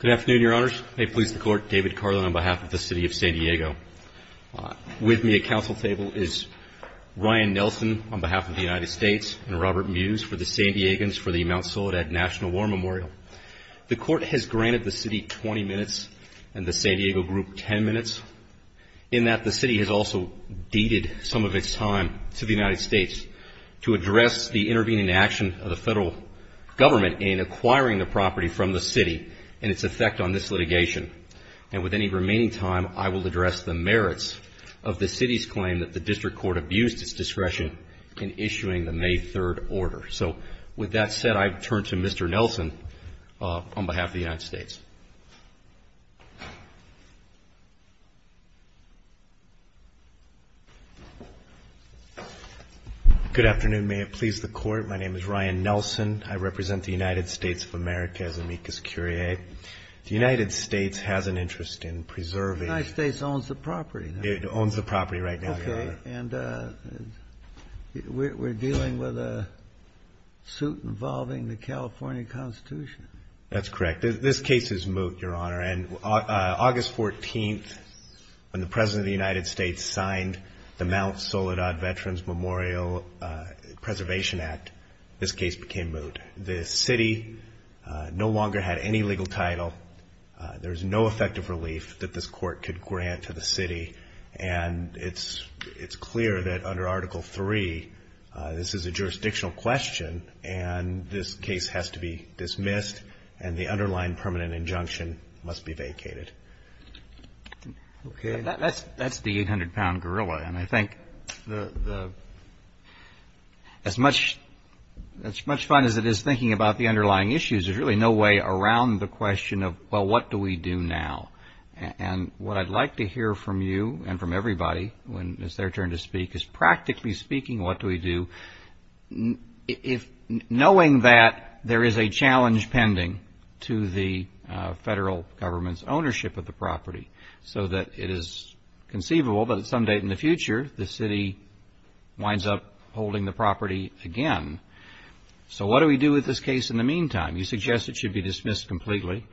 Good afternoon, Your Honors. May it please the Court, David Carlin on behalf of the City of San Diego. With me at council table is Ryan Nelson on behalf of the United States and Robert Mews for the San Diegans for the Mount Soledad National War Memorial. The Court has granted the City 20 minutes and the San Diego Group 10 minutes, in that the City has also deeded some of its time to the United States to address the intervening action of the Federal Government in acquiring the property from the City and its effect on this litigation. And with any remaining time, I will address the merits of the City's claim that the District Court abused its discretion in issuing the May 3rd order. So with that said, I turn to Mr. Nelson on behalf of the United States. MR. NELSON Good afternoon. May it please the Court, my name is Ryan Nelson. I represent the United States of America as amicus curiae. The United States has an interest in preserving THE COURT United States owns the property. MR. NELSON It owns the property right now, Your Honor. THE COURT Okay. And we're dealing with a suit involving the California Constitution. MR. NELSON That's correct. This case is moot, Your Honor. And August 14th, when the President of the United States signed the Mount Soledad Veterans Memorial Preservation Act, this case became moot. The City no longer had any legal title. There's no effective relief that this Court could grant to the City. And it's clear that under Article 3, this is a jurisdictional question, and this case has to be dismissed, and the underlying permanent injunction must be vacated. THE COURT Okay. That's the 800-pound gorilla. And I think as much fun as it is thinking about the underlying issues, there's really no way around the question of, well, what do we do now? And what I'd like to hear from you and from everybody when it's their turn to speak is, practically speaking, what do we do, knowing that there is a challenge pending to the Federal Government's ownership of the property, so that it is conceivable that at some date in the future, the City winds up holding the property again. So what do we do with this case in the meantime? You suggest it should be dismissed completely.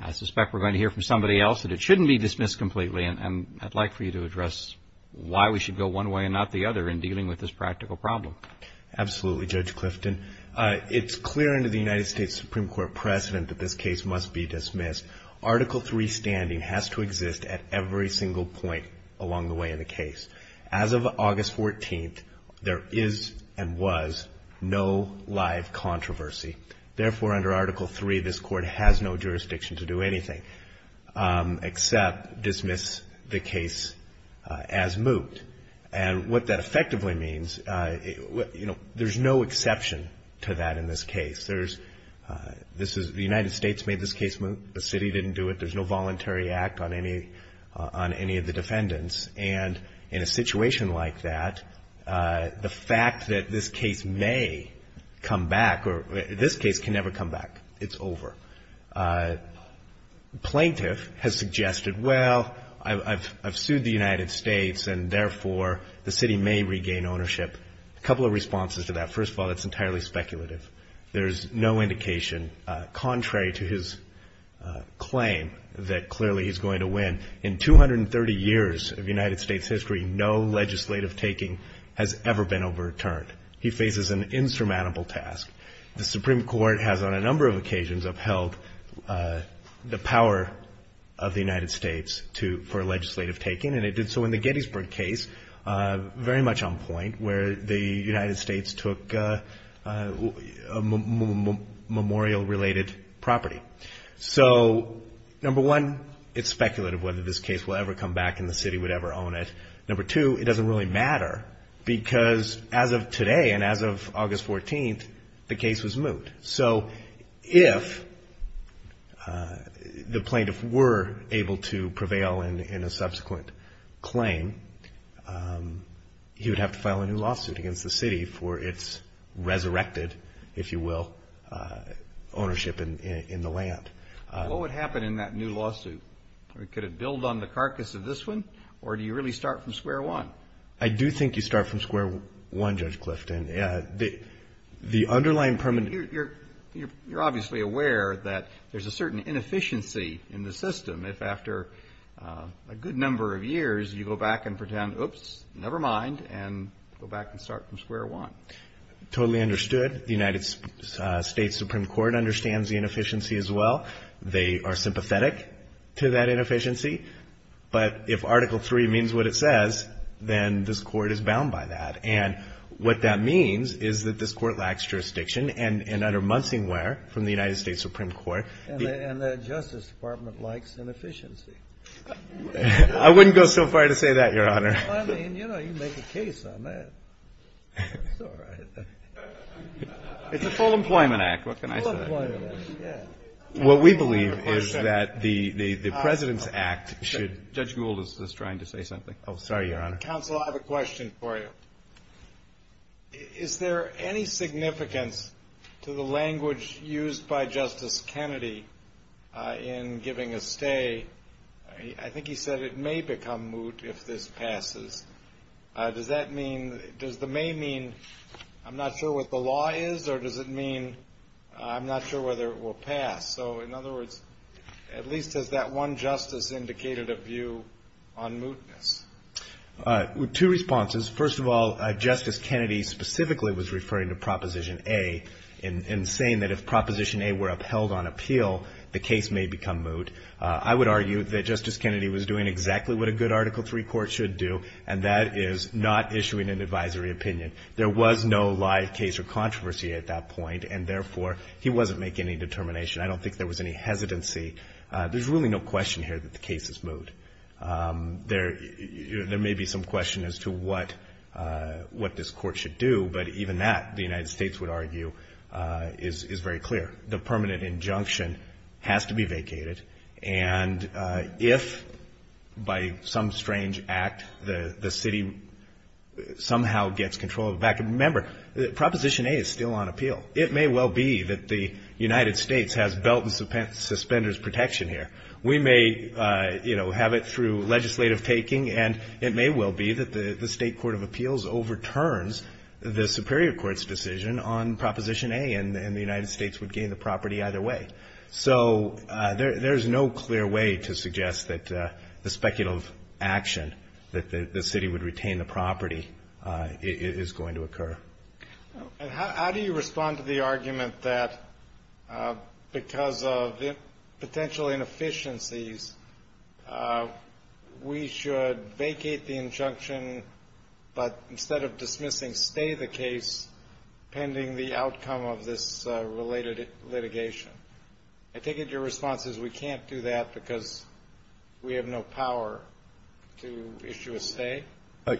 I suspect we're going to hear from somebody else that it shouldn't be dismissed completely, and I'd like for you to address why we should go one way and not the other in dealing with this practical problem. MR. CLIFTON Absolutely, Judge Clifton. It's clear under the United States Supreme Court precedent that this case must be dismissed. Article 3 standing has to exist at every single point along the way in the case. As of August 14th, there is and was no live controversy. Therefore, under Article 3, this Court has no jurisdiction to do anything except dismiss the case as moot. And what that effectively means, you know, there's no exception to that in this case. The United States made this case moot. The City didn't do it. There's no voluntary act on any of the defendants. And in a situation like that, the fact that this case may come back or this case can never come back. It's over. Plaintiff has suggested, well, I've sued the United States, and therefore the City may regain ownership. A couple of responses to that. First of all, that's entirely speculative. There's no indication contrary to his claim that clearly he's going to win. In 230 years of United States history, no legislative taking has ever been overturned. He faces an insurmountable task. The Supreme Court has on a number of occasions upheld the power of the United States for legislative taking, and it did so in the Gettysburg case, very much on point, where the United States took memorial-related property. So, number one, it's speculative whether this case will ever come back and the City would ever own it. Number two, it doesn't really matter, because as of today and as of August 14th, the case was moot. So if the plaintiff were able to prevail in a subsequent claim, he would have to file a new lawsuit against the City for its resurrected, if you will, ownership in the land. What would happen in that new lawsuit? Could it build on the carcass of this one, or do you really start from square one? I do think you start from square one, Judge Clifton. The underlying permanent – You're obviously aware that there's a certain inefficiency in the system. If after a good number of years you go back and pretend, oops, never mind, and go back and start from square one. Totally understood. The United States Supreme Court understands the inefficiency as well. They are sympathetic to that inefficiency. But if Article III means what it says, then this Court is bound by that. And what that means is that this Court lacks jurisdiction. And under Munsing Ware, from the United States Supreme Court – And the Justice Department likes inefficiency. I wouldn't go so far to say that, Your Honor. I mean, you know, you make a case on that. It's all right. It's the Full Employment Act. What can I say? What we believe is that the President's Act should – Judge Gould is just trying to say something. Oh, sorry, Your Honor. Counsel, I have a question for you. Is there any significance to the language used by Justice Kennedy in giving a stay? I think he said it may become moot if this passes. Does that mean – does the may mean I'm not sure what the law is, or does it mean I'm not sure whether it will pass? So, in other words, at least has that one justice indicated a view on mootness? Two responses. First of all, Justice Kennedy specifically was referring to Proposition A in saying that if Proposition A were upheld on appeal, the case may become moot. I would argue that Justice Kennedy was doing exactly what a good Article III court should do, and that is not issuing an advisory opinion. There was no live case or controversy at that point, and, therefore, he wasn't making any determination. I don't think there was any hesitancy. There's really no question here that the case is moot. There may be some question as to what this Court should do, but even that, the United States would argue, is very clear. The permanent injunction has to be vacated, and if by some strange act the city somehow gets control of it back – and remember, Proposition A is still on appeal. It may well be that the United States has belt and suspenders protection here. We may have it through legislative taking, and it may well be that the State Court of Appeals overturns the Superior Court's decision on Proposition A, and the United States would gain the property either way. So there's no clear way to suggest that the speculative action that the city would retain the property is going to occur. And how do you respond to the argument that because of potential inefficiencies, we should vacate the injunction, but instead of dismissing, stay the case pending the outcome of this related litigation? I take it your response is we can't do that because we have no power to issue a stay?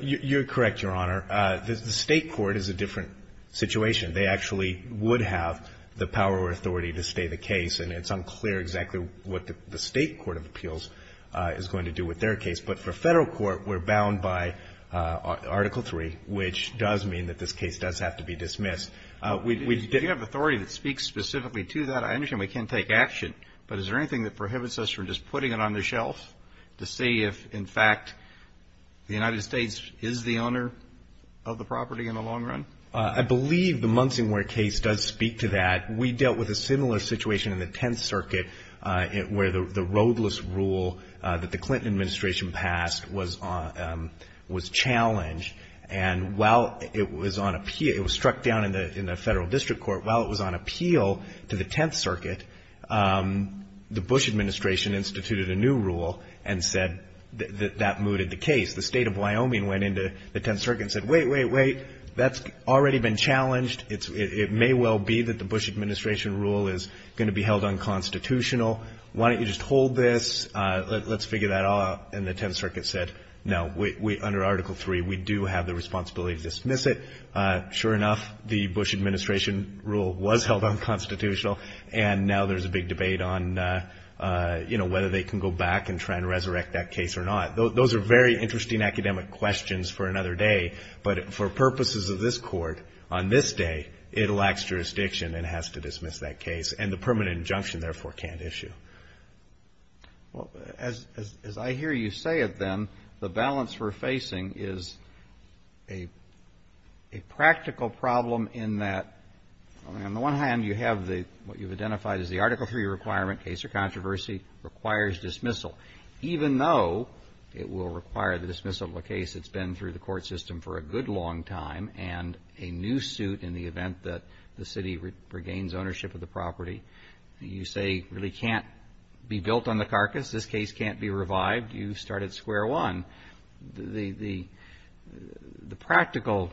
You're correct, Your Honor. The State Court is a different situation. They actually would have the power or authority to stay the case, and it's unclear exactly what the State Court of Appeals is going to do with their case. But for a Federal court, we're bound by Article III, which does mean that this case does have to be dismissed. Do you have authority that speaks specifically to that? I understand we can't take action, but is there anything that prohibits us from just putting it on the shelf to see if, in fact, the United States is the owner of the property in the long run? I believe the Munsingwear case does speak to that. We dealt with a similar situation in the Tenth Circuit, where the roadless rule that the Clinton administration passed was challenged. And while it was on appeal, it was struck down in the Federal District Court. While it was on appeal to the Tenth Circuit, the Bush administration instituted a new rule and said that that mooted the case. The State of Wyoming went into the Tenth Circuit and said, wait, wait, wait, that's already been challenged. It may well be that the Bush administration rule is going to be held unconstitutional. Why don't you just hold this? Let's figure that all out. And the Tenth Circuit said, no, under Article III, we do have the responsibility to dismiss it. Sure enough, the Bush administration rule was held unconstitutional. And now there's a big debate on, you know, whether they can go back and try to resurrect that case or not. Those are very interesting academic questions for another day. But for purposes of this Court, on this day, it lacks jurisdiction and has to dismiss that case. And the permanent injunction, therefore, can't issue. Well, as I hear you say it then, the balance we're facing is a practical problem in that, on the one hand, you have what you've identified as the Article III requirement, case or controversy, requires dismissal. Even though it will require the dismissal of a case that's been through the court system for a good long time and a new suit in the event that the city regains ownership of the property. You say it really can't be built on the carcass. This case can't be revived. You start at square one. The practical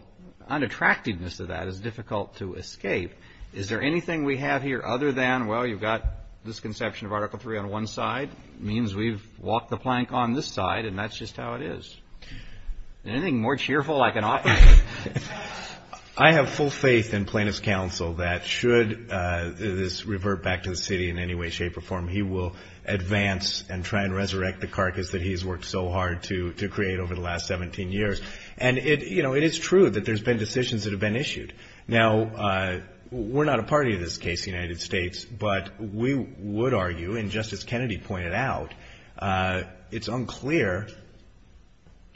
unattractiveness of that is difficult to escape. Is there anything we have here other than, well, you've got this conception of Article III on one side. It means we've walked the plank on this side, and that's just how it is. Anything more cheerful I can offer? I have full faith in plaintiff's counsel that should this revert back to the city in any way, shape, or form, he will advance and try and resurrect the carcass that he has worked so hard to create over the last 17 years. And it is true that there's been decisions that have been issued. Now, we're not a party to this case, the United States, but we would argue, and Justice Kennedy pointed out, it's unclear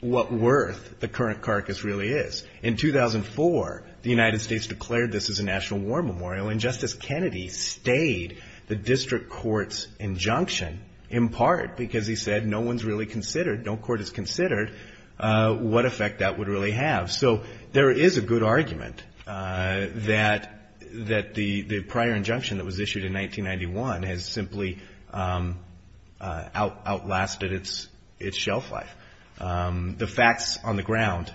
what worth the current carcass really is. In 2004, the United States declared this as a national war memorial, and Justice Kennedy stayed the district court's injunction in part because he said no one's really considered, no court has considered what effect that would really have. So there is a good argument that the prior injunction that was issued in 1991 has simply outlasted its shelf life. The facts on the ground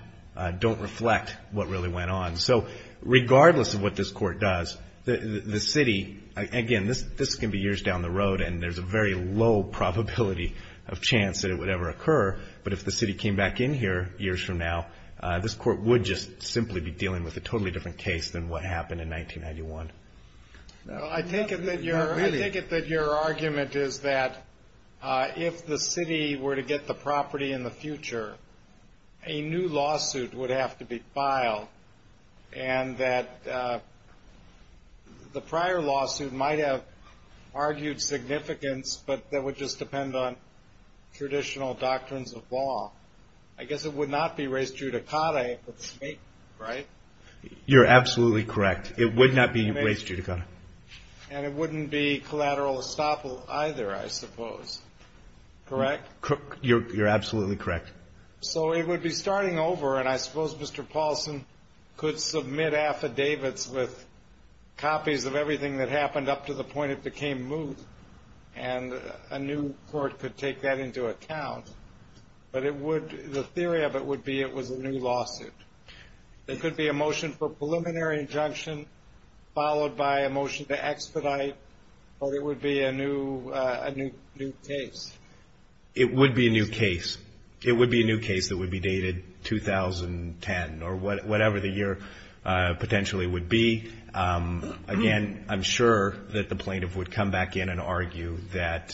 don't reflect what really went on. So regardless of what this court does, the city, again, this can be years down the road, and there's a very low probability of chance that it would ever occur, but if the city came back in here years from now, this court would just simply be dealing with a totally different case than what happened in 1991. I take it that your argument is that if the city were to get the property in the future, a new lawsuit would have to be filed, and that the prior lawsuit might have argued significance, but that would just depend on traditional doctrines of law. I guess it would not be res judicata, right? You're absolutely correct. It would not be res judicata. And it wouldn't be collateral estoppel either, I suppose, correct? You're absolutely correct. So it would be starting over, and I suppose Mr. Paulson could submit affidavits with copies of everything that happened up to the point it became moot, and a new court could take that into account, but the theory of it would be it was a new lawsuit. It could be a motion for preliminary injunction followed by a motion to expedite, or it would be a new case. It would be a new case. It would be a new case that would be dated 2010 or whatever the year potentially would be. Again, I'm sure that the plaintiff would come back in and argue that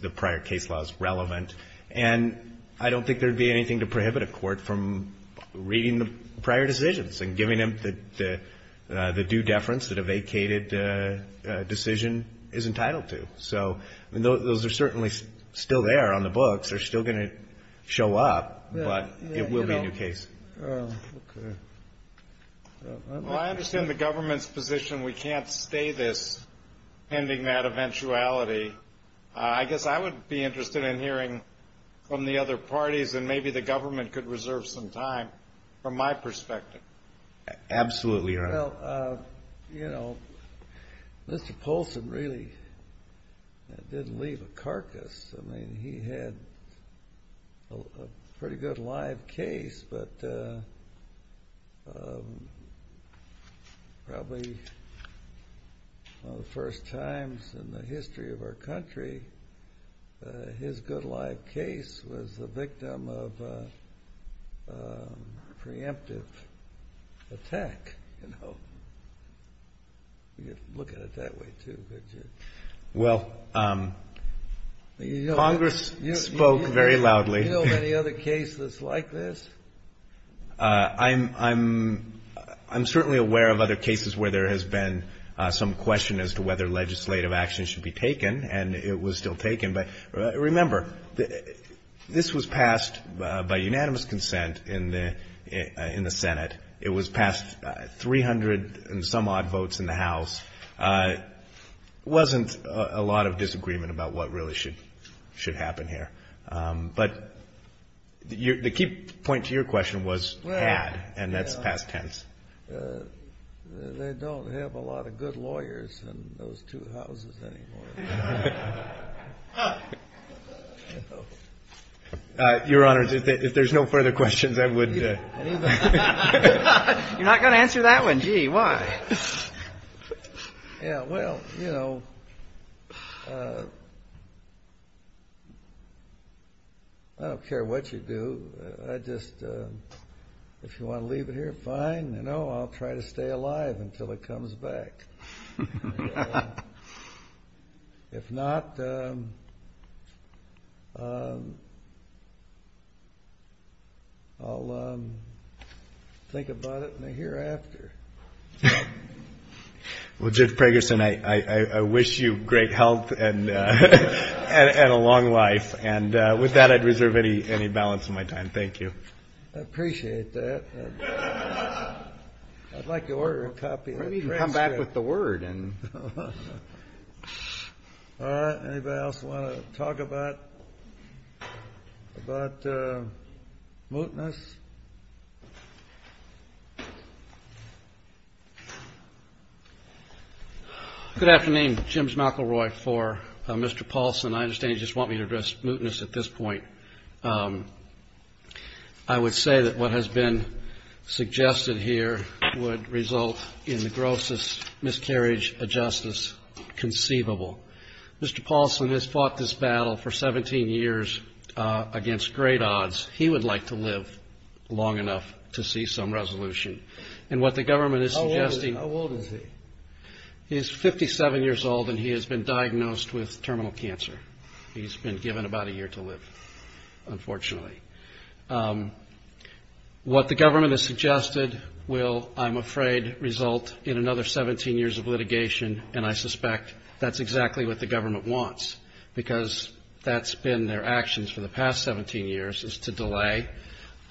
the prior case law is relevant. And I don't think there would be anything to prohibit a court from reading the prior decisions and giving them the due deference that a vacated decision is entitled to. So those are certainly still there on the books. They're still going to show up, but it will be a new case. Well, I understand the government's position we can't stay this pending that eventuality. I guess I would be interested in hearing from the other parties, and maybe the government could reserve some time from my perspective. Absolutely, Your Honor. Well, you know, Mr. Paulson really didn't leave a carcass. I mean, he had a pretty good live case, but probably one of the first times in the history of our country, his good live case was the victim of a preemptive attack, you know. You could look at it that way too, could you? Well, Congress spoke very loudly. Do you know of any other cases like this? I'm certainly aware of other cases where there has been some question as to whether legislative action should be taken, and it was still taken. But remember, this was passed by unanimous consent in the Senate. It was passed 300 and some odd votes in the House. There wasn't a lot of disagreement about what really should happen here. But the key point to your question was had, and that's past tense. They don't have a lot of good lawyers in those two houses anymore. Your Honor, if there's no further questions, I would. You're not going to answer that one? Gee, why? Yeah, well, you know, I don't care what you do. I just, if you want to leave it here, fine. I'll try to stay alive until it comes back. If not, I'll think about it in the hereafter. Well, Judge Preggerson, I wish you great health and a long life. And with that, I'd reserve any balance of my time. Thank you. I appreciate that. I'd like to order a copy. Maybe you can come back with the word. All right. Anybody else want to talk about mootness? Good afternoon. Jim McElroy for Mr. Paulson. I understand you just want me to address mootness at this point. I would say that what has been suggested here would result in the grossest miscarriage of justice conceivable. Mr. Paulson has fought this battle for 17 years against great odds. He would like to live long enough to see some resolution. And what the government is suggesting — How old is he? He is 57 years old, and he has been diagnosed with terminal cancer. He's been given about a year to live, unfortunately. What the government has suggested will, I'm afraid, result in another 17 years of litigation, and I suspect that's exactly what the government wants because that's been their actions for the past 17 years, is to delay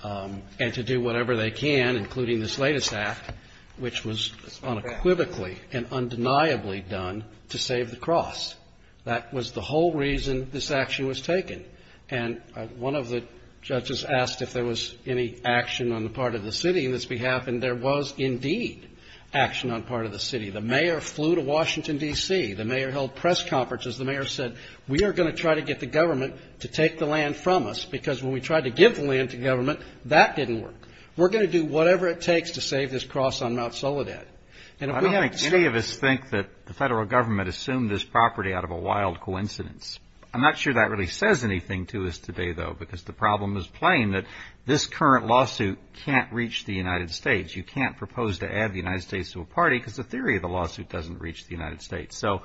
and to do whatever they can, including this latest act, which was unequivocally and undeniably done to save the cross. That was the whole reason this action was taken. And one of the judges asked if there was any action on the part of the city in this behalf, and there was indeed action on part of the city. The mayor flew to Washington, D.C. The mayor held press conferences. The mayor said, we are going to try to get the government to take the land from us because when we tried to give the land to government, that didn't work. We're going to do whatever it takes to save this cross on Mount Soledad. I don't think any of us think that the federal government assumed this property out of a wild coincidence. I'm not sure that really says anything to us today, though, because the problem is plain that this current lawsuit can't reach the United States. You can't propose to add the United States to a party because the theory of the lawsuit doesn't reach the United States. So,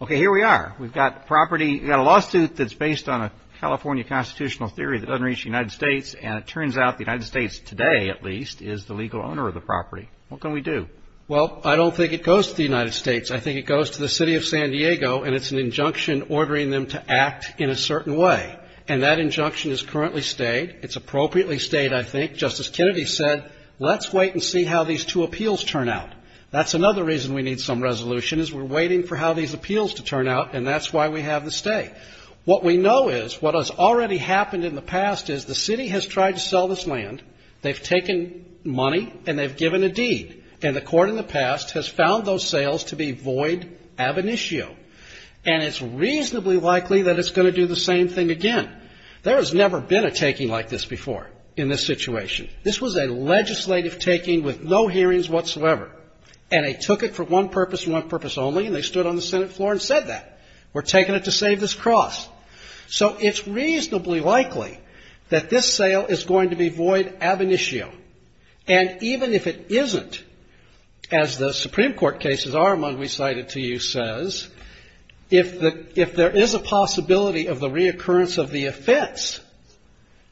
okay, here we are. We've got property. We've got a lawsuit that's based on a California constitutional theory that doesn't reach the United States, and it turns out the United States today, at least, is the legal owner of the property. What can we do? Well, I don't think it goes to the United States. I think it goes to the city of San Diego, and it's an injunction ordering them to act in a certain way, and that injunction is currently stayed. It's appropriately stayed, I think. Justice Kennedy said, let's wait and see how these two appeals turn out. That's another reason we need some resolution is we're waiting for how these appeals to turn out, and that's why we have the stay. What we know is what has already happened in the past is the city has tried to sell this land. They've taken money, and they've given a deed, and the court in the past has found those sales to be void ab initio, and it's reasonably likely that it's going to do the same thing again. There has never been a taking like this before in this situation. This was a legislative taking with no hearings whatsoever, and they took it for one purpose and one purpose only, and they stood on the Senate floor and said that. We're taking it to save this cross. So it's reasonably likely that this sale is going to be void ab initio, and even if it isn't, as the Supreme Court cases are among we cited to you says, if there is a possibility of the reoccurrence of the offense,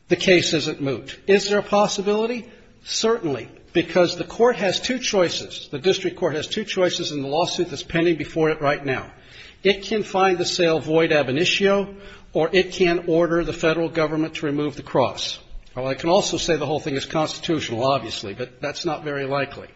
the case isn't moot. Is there a possibility? Certainly, because the court has two choices. The district court has two choices in the lawsuit that's pending before it right now. It can find the sale void ab initio, or it can order the Federal Government to remove the cross. Well, I can also say the whole thing is constitutional, obviously, but that's not very likely.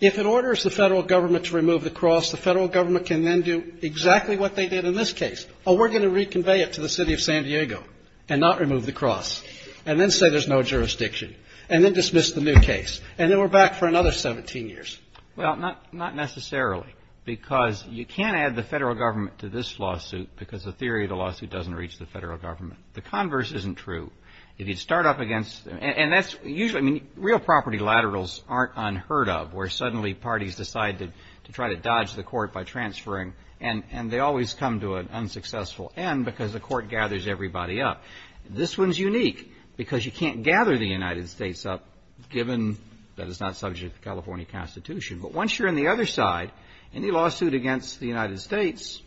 If it orders the Federal Government to remove the cross, the Federal Government can then do exactly what they did in this case. Oh, we're going to reconvey it to the city of San Diego and not remove the cross, and then say there's no jurisdiction, and then dismiss the new case, and then we're back for another 17 years. Well, not necessarily, because you can't add the Federal Government to this lawsuit because the theory of the lawsuit doesn't reach the Federal Government. The converse isn't true. If you start up against, and that's usually, I mean, real property laterals aren't unheard of where suddenly parties decide to try to dodge the court by transferring, and they always come to an unsuccessful end because the court gathers everybody up. This one's unique because you can't gather the United States up, given that it's not subject to California Constitution. But once you're on the other side, any lawsuit against the United States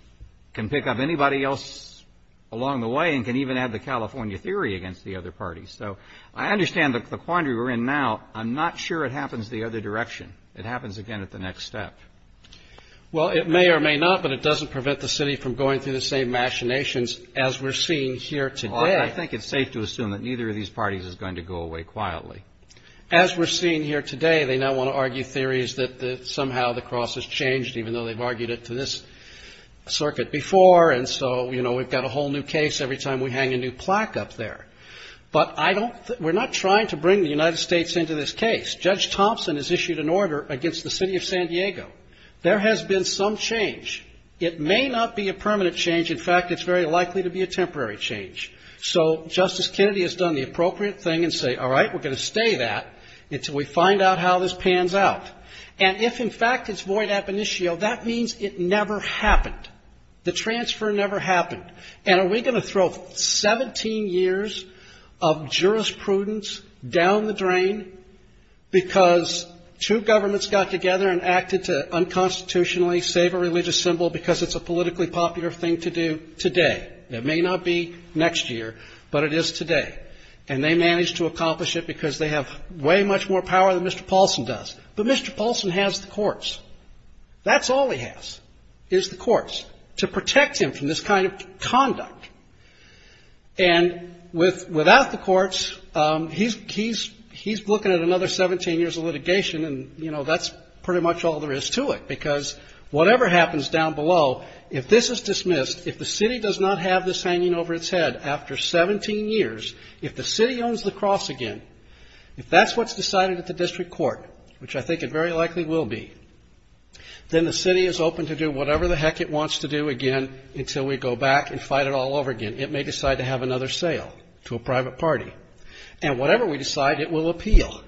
can pick up anybody else along the way and can even add the California theory against the other parties. So I understand the quandary we're in now. I'm not sure it happens the other direction. It happens again at the next step. Well, it may or may not, but it doesn't prevent the city from going through the same machinations as we're seeing here today. I think it's safe to assume that neither of these parties is going to go away quietly. As we're seeing here today, they now want to argue theories that somehow the cross has changed, even though they've argued it to this circuit before, and so we've got a whole new case every time we hang a new plaque up there. But we're not trying to bring the United States into this case. Judge Thompson has issued an order against the city of San Diego. There has been some change. It may not be a permanent change. In fact, it's very likely to be a temporary change. So Justice Kennedy has done the appropriate thing and said, all right, we're going to stay that until we find out how this pans out. And if, in fact, it's void ab initio, that means it never happened. The transfer never happened. And are we going to throw 17 years of jurisprudence down the drain because two governments got together and acted to unconstitutionally save a religious symbol because it's a politically popular thing to do today? It may not be next year, but it is today. And they managed to accomplish it because they have way much more power than Mr. Paulson does. But Mr. Paulson has the courts. That's all he has is the courts to protect him from this kind of conduct. And without the courts, he's looking at another 17 years of litigation, and, you know, that's pretty much all there is to it because whatever happens down below, if this is dismissed, if the city does not have this hanging over its head after 17 years, if the city owns the cross again, if that's what's decided at the district court, which I think it very likely will be, then the city is open to do whatever the heck it wants to do again until we go back and fight it all over again. It may decide to have another sale to a private party. And whatever we decide, it will appeal.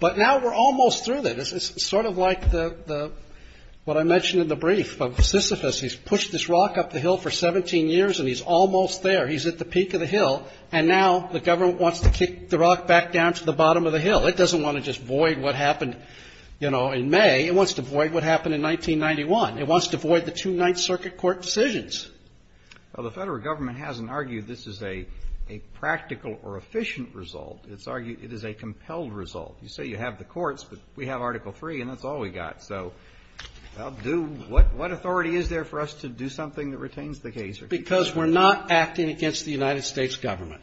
But now we're almost through that. It's sort of like the what I mentioned in the brief of Sisyphus. He's pushed this rock up the hill for 17 years, and he's almost there. He's at the peak of the hill. And now the government wants to kick the rock back down to the bottom of the hill. It doesn't want to just void what happened, you know, in May. It wants to void what happened in 1991. It wants to void the two Ninth Circuit court decisions. Well, the Federal Government hasn't argued this is a practical or efficient result. It's argued it is a compelled result. You say you have the courts, but we have Article III, and that's all we got. So I'll do what authority is there for us to do something that retains the case? Because we're not acting against the United States Government.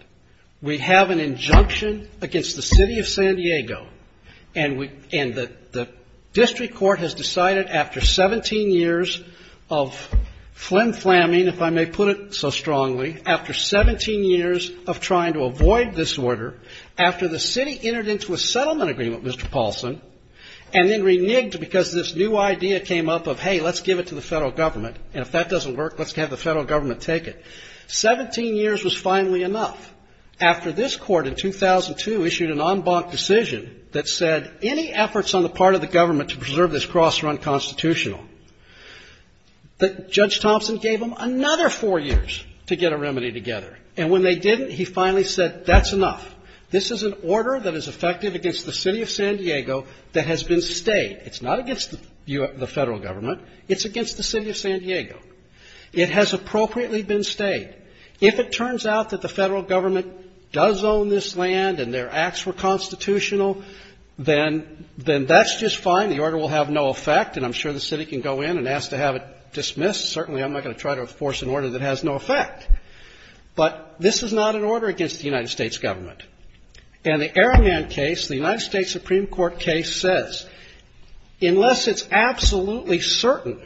We have an injunction against the City of San Diego. And the district court has decided after 17 years of flim-flamming, if I may put it so strongly, after 17 years of trying to avoid this order, after the city entered into a settlement agreement, Mr. Paulson, and then reneged because this new idea came up of, hey, let's give it to the Federal Government. And if that doesn't work, let's have the Federal Government take it. Seventeen years was finally enough after this court in 2002 issued an en banc decision that said any efforts on the part of the government to preserve this cross are unconstitutional. Judge Thompson gave them another four years to get a remedy together. And when they didn't, he finally said that's enough. This is an order that is effective against the City of San Diego that has been stayed. It's not against the Federal Government. It's against the City of San Diego. It has appropriately been stayed. If it turns out that the Federal Government does own this land and their acts were constitutional, then that's just fine. The order will have no effect. And I'm sure the city can go in and ask to have it dismissed. Certainly, I'm not going to try to enforce an order that has no effect. But this is not an order against the United States Government. And the Araman case, the United States Supreme Court case, says unless it's absolutely certain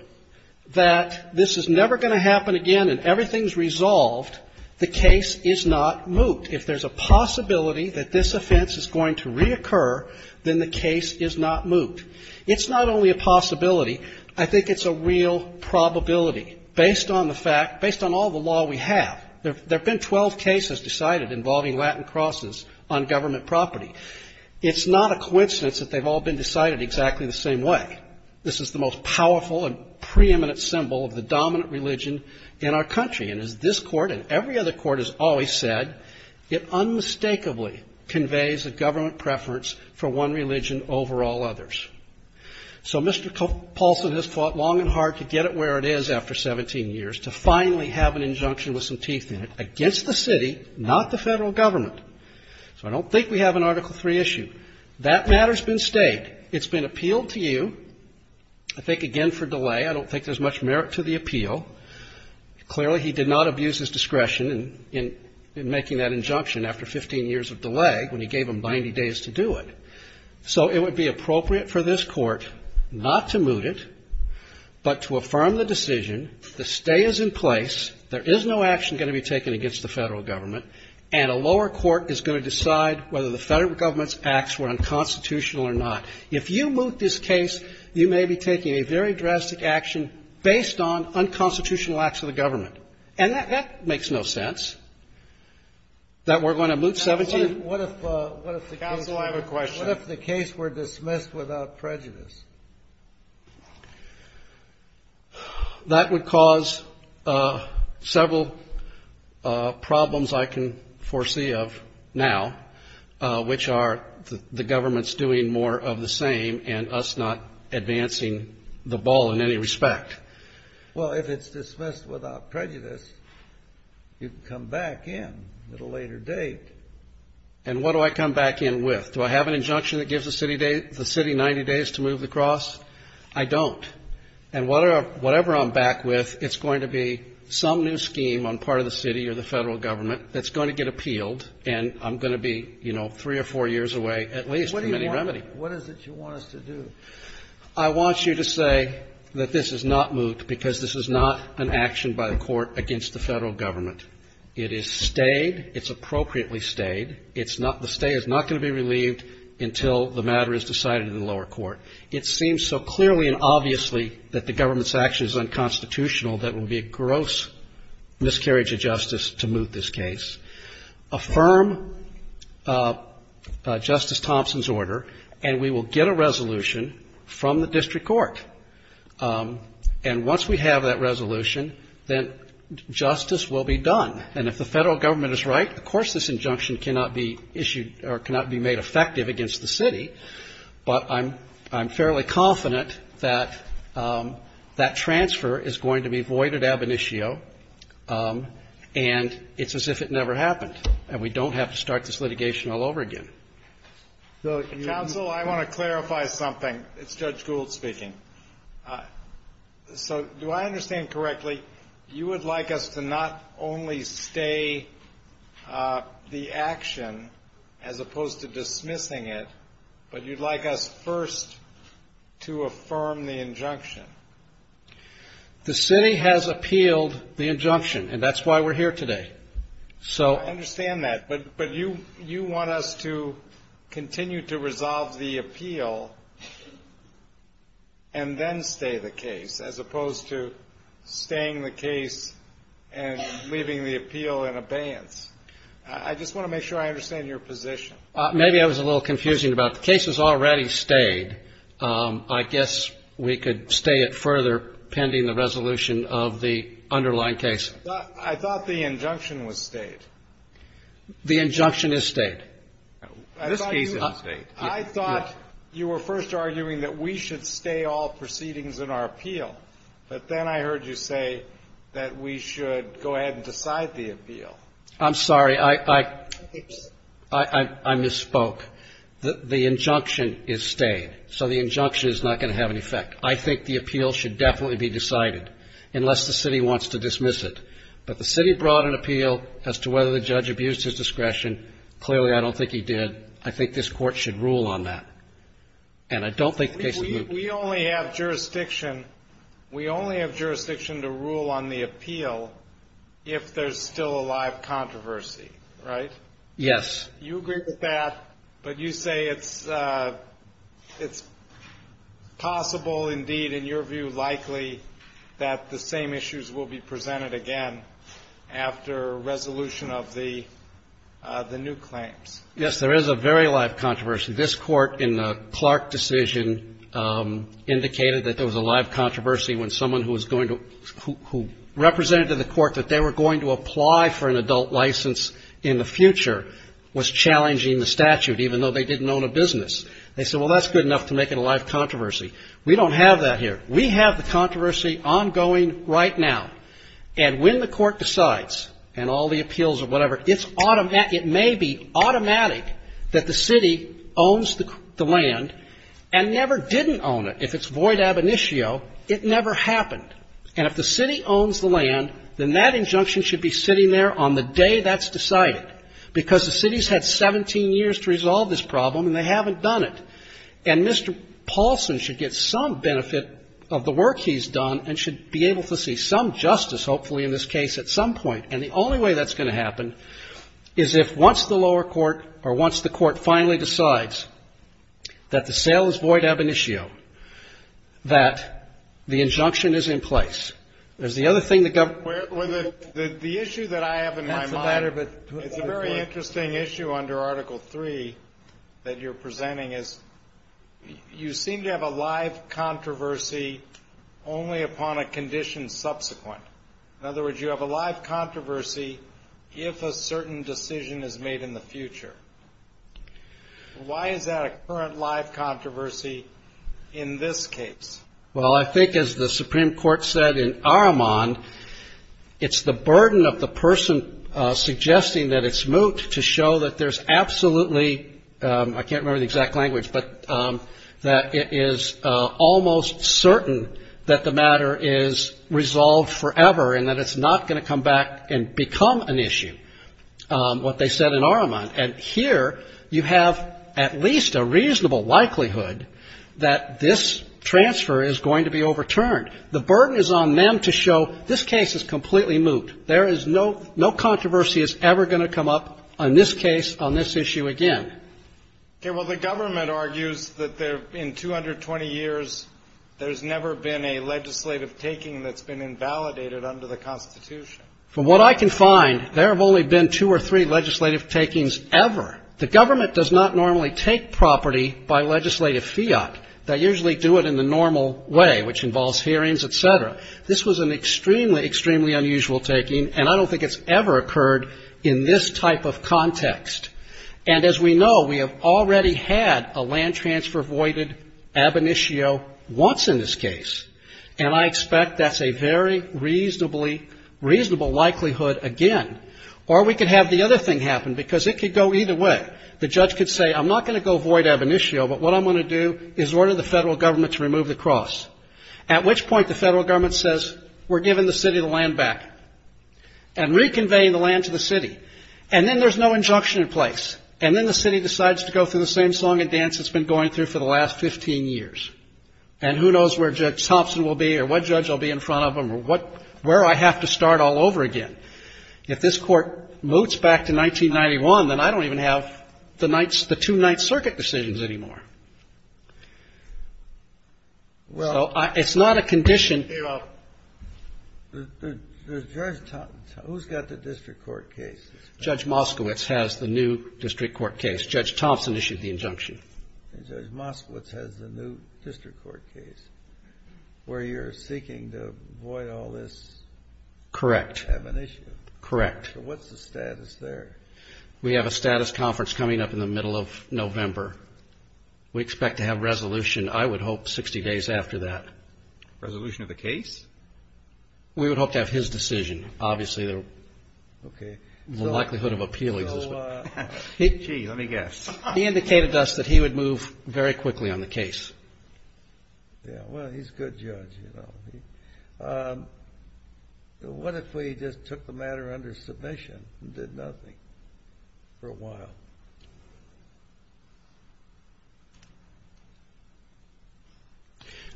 that this is never going to happen again and everything is resolved, the case is not moot. If there's a possibility that this offense is going to reoccur, then the case is not moot. It's not only a possibility. I think it's a real probability based on the fact, based on all the law we have. There have been 12 cases decided involving Latin crosses on government property. It's not a coincidence that they've all been decided exactly the same way. This is the most powerful and preeminent symbol of the dominant religion in our country. And as this Court and every other Court has always said, it unmistakably conveys a dominant religion over all others. So Mr. Polson has fought long and hard to get it where it is after 17 years, to finally have an injunction with some teeth in it against the city, not the Federal Government. So I don't think we have an Article III issue. That matter's been stayed. It's been appealed to you, I think again for delay. I don't think there's much merit to the appeal. Clearly, he did not abuse his discretion in making that injunction after 15 years of delay, when he gave them 90 days to do it. So it would be appropriate for this Court not to moot it, but to affirm the decision. The stay is in place. There is no action going to be taken against the Federal Government. And a lower court is going to decide whether the Federal Government's acts were unconstitutional or not. If you moot this case, you may be taking a very drastic action based on unconstitutional acts of the government. And that makes no sense, that we're going to moot 17 years. What if the case were dismissed without prejudice? That would cause several problems I can foresee of now, which are the government's doing more of the same and us not advancing the ball in any respect. Well, if it's dismissed without prejudice, you can come back in at a later date. And what do I come back in with? Do I have an injunction that gives the city 90 days to move the cross? I don't. And whatever I'm back with, it's going to be some new scheme on part of the city or the Federal Government that's going to get appealed, and I'm going to be, you know, three or four years away at least from any remedy. What is it you want us to do? I want you to say that this is not moot because this is not an action by the Court against the Federal Government. It is stayed. It's appropriately stayed. It's not the stay is not going to be relieved until the matter is decided in the lower court. It seems so clearly and obviously that the government's action is unconstitutional that it would be a gross miscarriage of justice to moot this case. Affirm Justice Thompson's order, and we will get a resolution from the district court. And once we have that resolution, then justice will be done. And if the Federal Government is right, of course this injunction cannot be issued or cannot be made effective against the city, but I'm fairly confident that that transfer is going to be voided ab initio and it's as if it never happened. And we don't have to start this litigation all over again. Counsel, I want to clarify something. It's Judge Gould speaking. So do I understand correctly, you would like us to not only stay the action as opposed to dismissing it, but you'd like us first to affirm the injunction? The city has appealed the injunction, and that's why we're here today. I understand that, but you want us to continue to resolve the appeal and then stay the case, as opposed to staying the case and leaving the appeal in abeyance. I just want to make sure I understand your position. Maybe I was a little confusing about the case has already stayed. I guess we could stay it further pending the resolution of the underlying case. I thought the injunction was stayed. The injunction is stayed. This case is stayed. I thought you were first arguing that we should stay all proceedings in our appeal, but then I heard you say that we should go ahead and decide the appeal. I'm sorry. I misspoke. The injunction is stayed, so the injunction is not going to have any effect. I think the appeal should definitely be decided, unless the city wants to dismiss it. But the city brought an appeal as to whether the judge abused his discretion. Clearly, I don't think he did. I think this Court should rule on that, and I don't think the case is moved. We only have jurisdiction to rule on the appeal if there's still a live controversy, right? Yes. You agree with that, but you say it's possible, indeed, in your view, likely, that the same issues will be presented again after resolution of the new claims. Yes, there is a very live controversy. This Court in the Clark decision indicated that there was a live controversy when someone who was going to – who represented to the Court that they were going to apply for an adult license in the future was challenging the statute, even though they didn't own a business. They said, well, that's good enough to make it a live controversy. We don't have that here. We have the controversy ongoing right now, and when the Court decides and all the appeals or whatever, it's – it may be automatic that the city owns the land and never didn't own it. If it's void ab initio, it never happened. And if the city owns the land, then that injunction should be sitting there on the day that's decided, because the city's had 17 years to resolve this problem, and they haven't done it. And Mr. Paulson should get some benefit of the work he's done and should be able to see some justice, hopefully, in this case, at some point. And the only way that's going to happen is if once the lower court or once the Court finally decides that the sale is void ab initio, that the injunction is in place. There's the other thing the government – The issue that I have in my mind – That's a matter of – It's a very interesting issue under Article III that you're presenting is you seem to have a live controversy only upon a condition subsequent. In other words, you have a live controversy if a certain decision is made in the future. Why is that a current live controversy in this case? Well, I think, as the Supreme Court said in Aramond, it's the burden of the person suggesting that it's moot to show that there's absolutely – I can't remember the exact language, but that it is almost certain that the matter is resolved forever and that it's not going to come back and become an issue, what they said in Aramond. And here you have at least a reasonable likelihood that this transfer is going to be overturned. The burden is on them to show this case is completely moot. There is no – no controversy is ever going to come up on this case, on this issue again. Okay. Well, the government argues that in 220 years, there's never been a legislative taking that's been invalidated under the Constitution. From what I can find, there have only been two or three legislative takings ever. The government does not normally take property by legislative fiat. They usually do it in the normal way, which involves hearings, et cetera. This was an extremely, extremely unusual taking, and I don't think it's ever occurred in this type of context. And as we know, we have already had a land transfer voided ab initio once in this case, and I expect that's a very reasonably – reasonable likelihood again. Or we could have the other thing happen, because it could go either way. The judge could say, I'm not going to go void ab initio, but what I'm going to do is order the federal government to remove the cross, at which point the federal government says, we're giving the city the land back and reconveying the land to the city. And then there's no injunction in place, and then the city decides to go through the same song and dance it's been going through for the last 15 years. And who knows where Judge Thompson will be or what judge will be in front of him or where I have to start all over again. If this Court moves back to 1991, then I don't even have the two Ninth Circuit decisions anymore. So it's not a condition. The judge – who's got the district court case? Judge Moskowitz has the new district court case. Judge Thompson issued the injunction. And Judge Moskowitz has the new district court case, where you're seeking to void all this ab initio. Correct. Correct. So what's the status there? We have a status conference coming up in the middle of November. We expect to have resolution, I would hope, 60 days after that. Resolution of the case? We would hope to have his decision. Obviously, the likelihood of appeal is – Gee, let me guess. He indicated to us that he would move very quickly on the case. Yeah, well, he's a good judge, you know. What if we just took the matter under submission and did nothing for a while?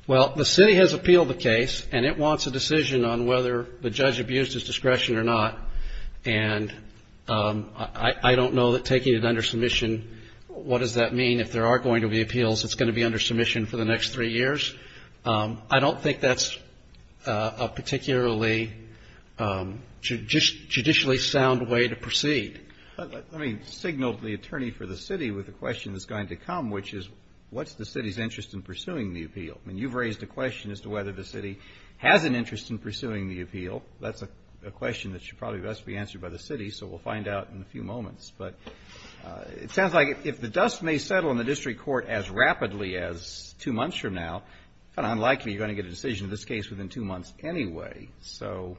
Well, the city has appealed the case, and it wants a decision on whether the judge abused his discretion or not. And I don't know that taking it under submission, what does that mean? If there are going to be appeals, it's going to be under submission for the next three years. I don't think that's a particularly judicially sound way to proceed. Let me signal to the attorney for the city with a question that's going to come, which is, what's the city's interest in pursuing the appeal? I mean, you've raised a question as to whether the city has an interest in pursuing the appeal. That's a question that should probably best be answered by the city, so we'll find out in a few moments. But it sounds like if the dust may settle in the district court as rapidly as two months from now, it's kind of unlikely you're going to get a decision in this case within two months anyway. So…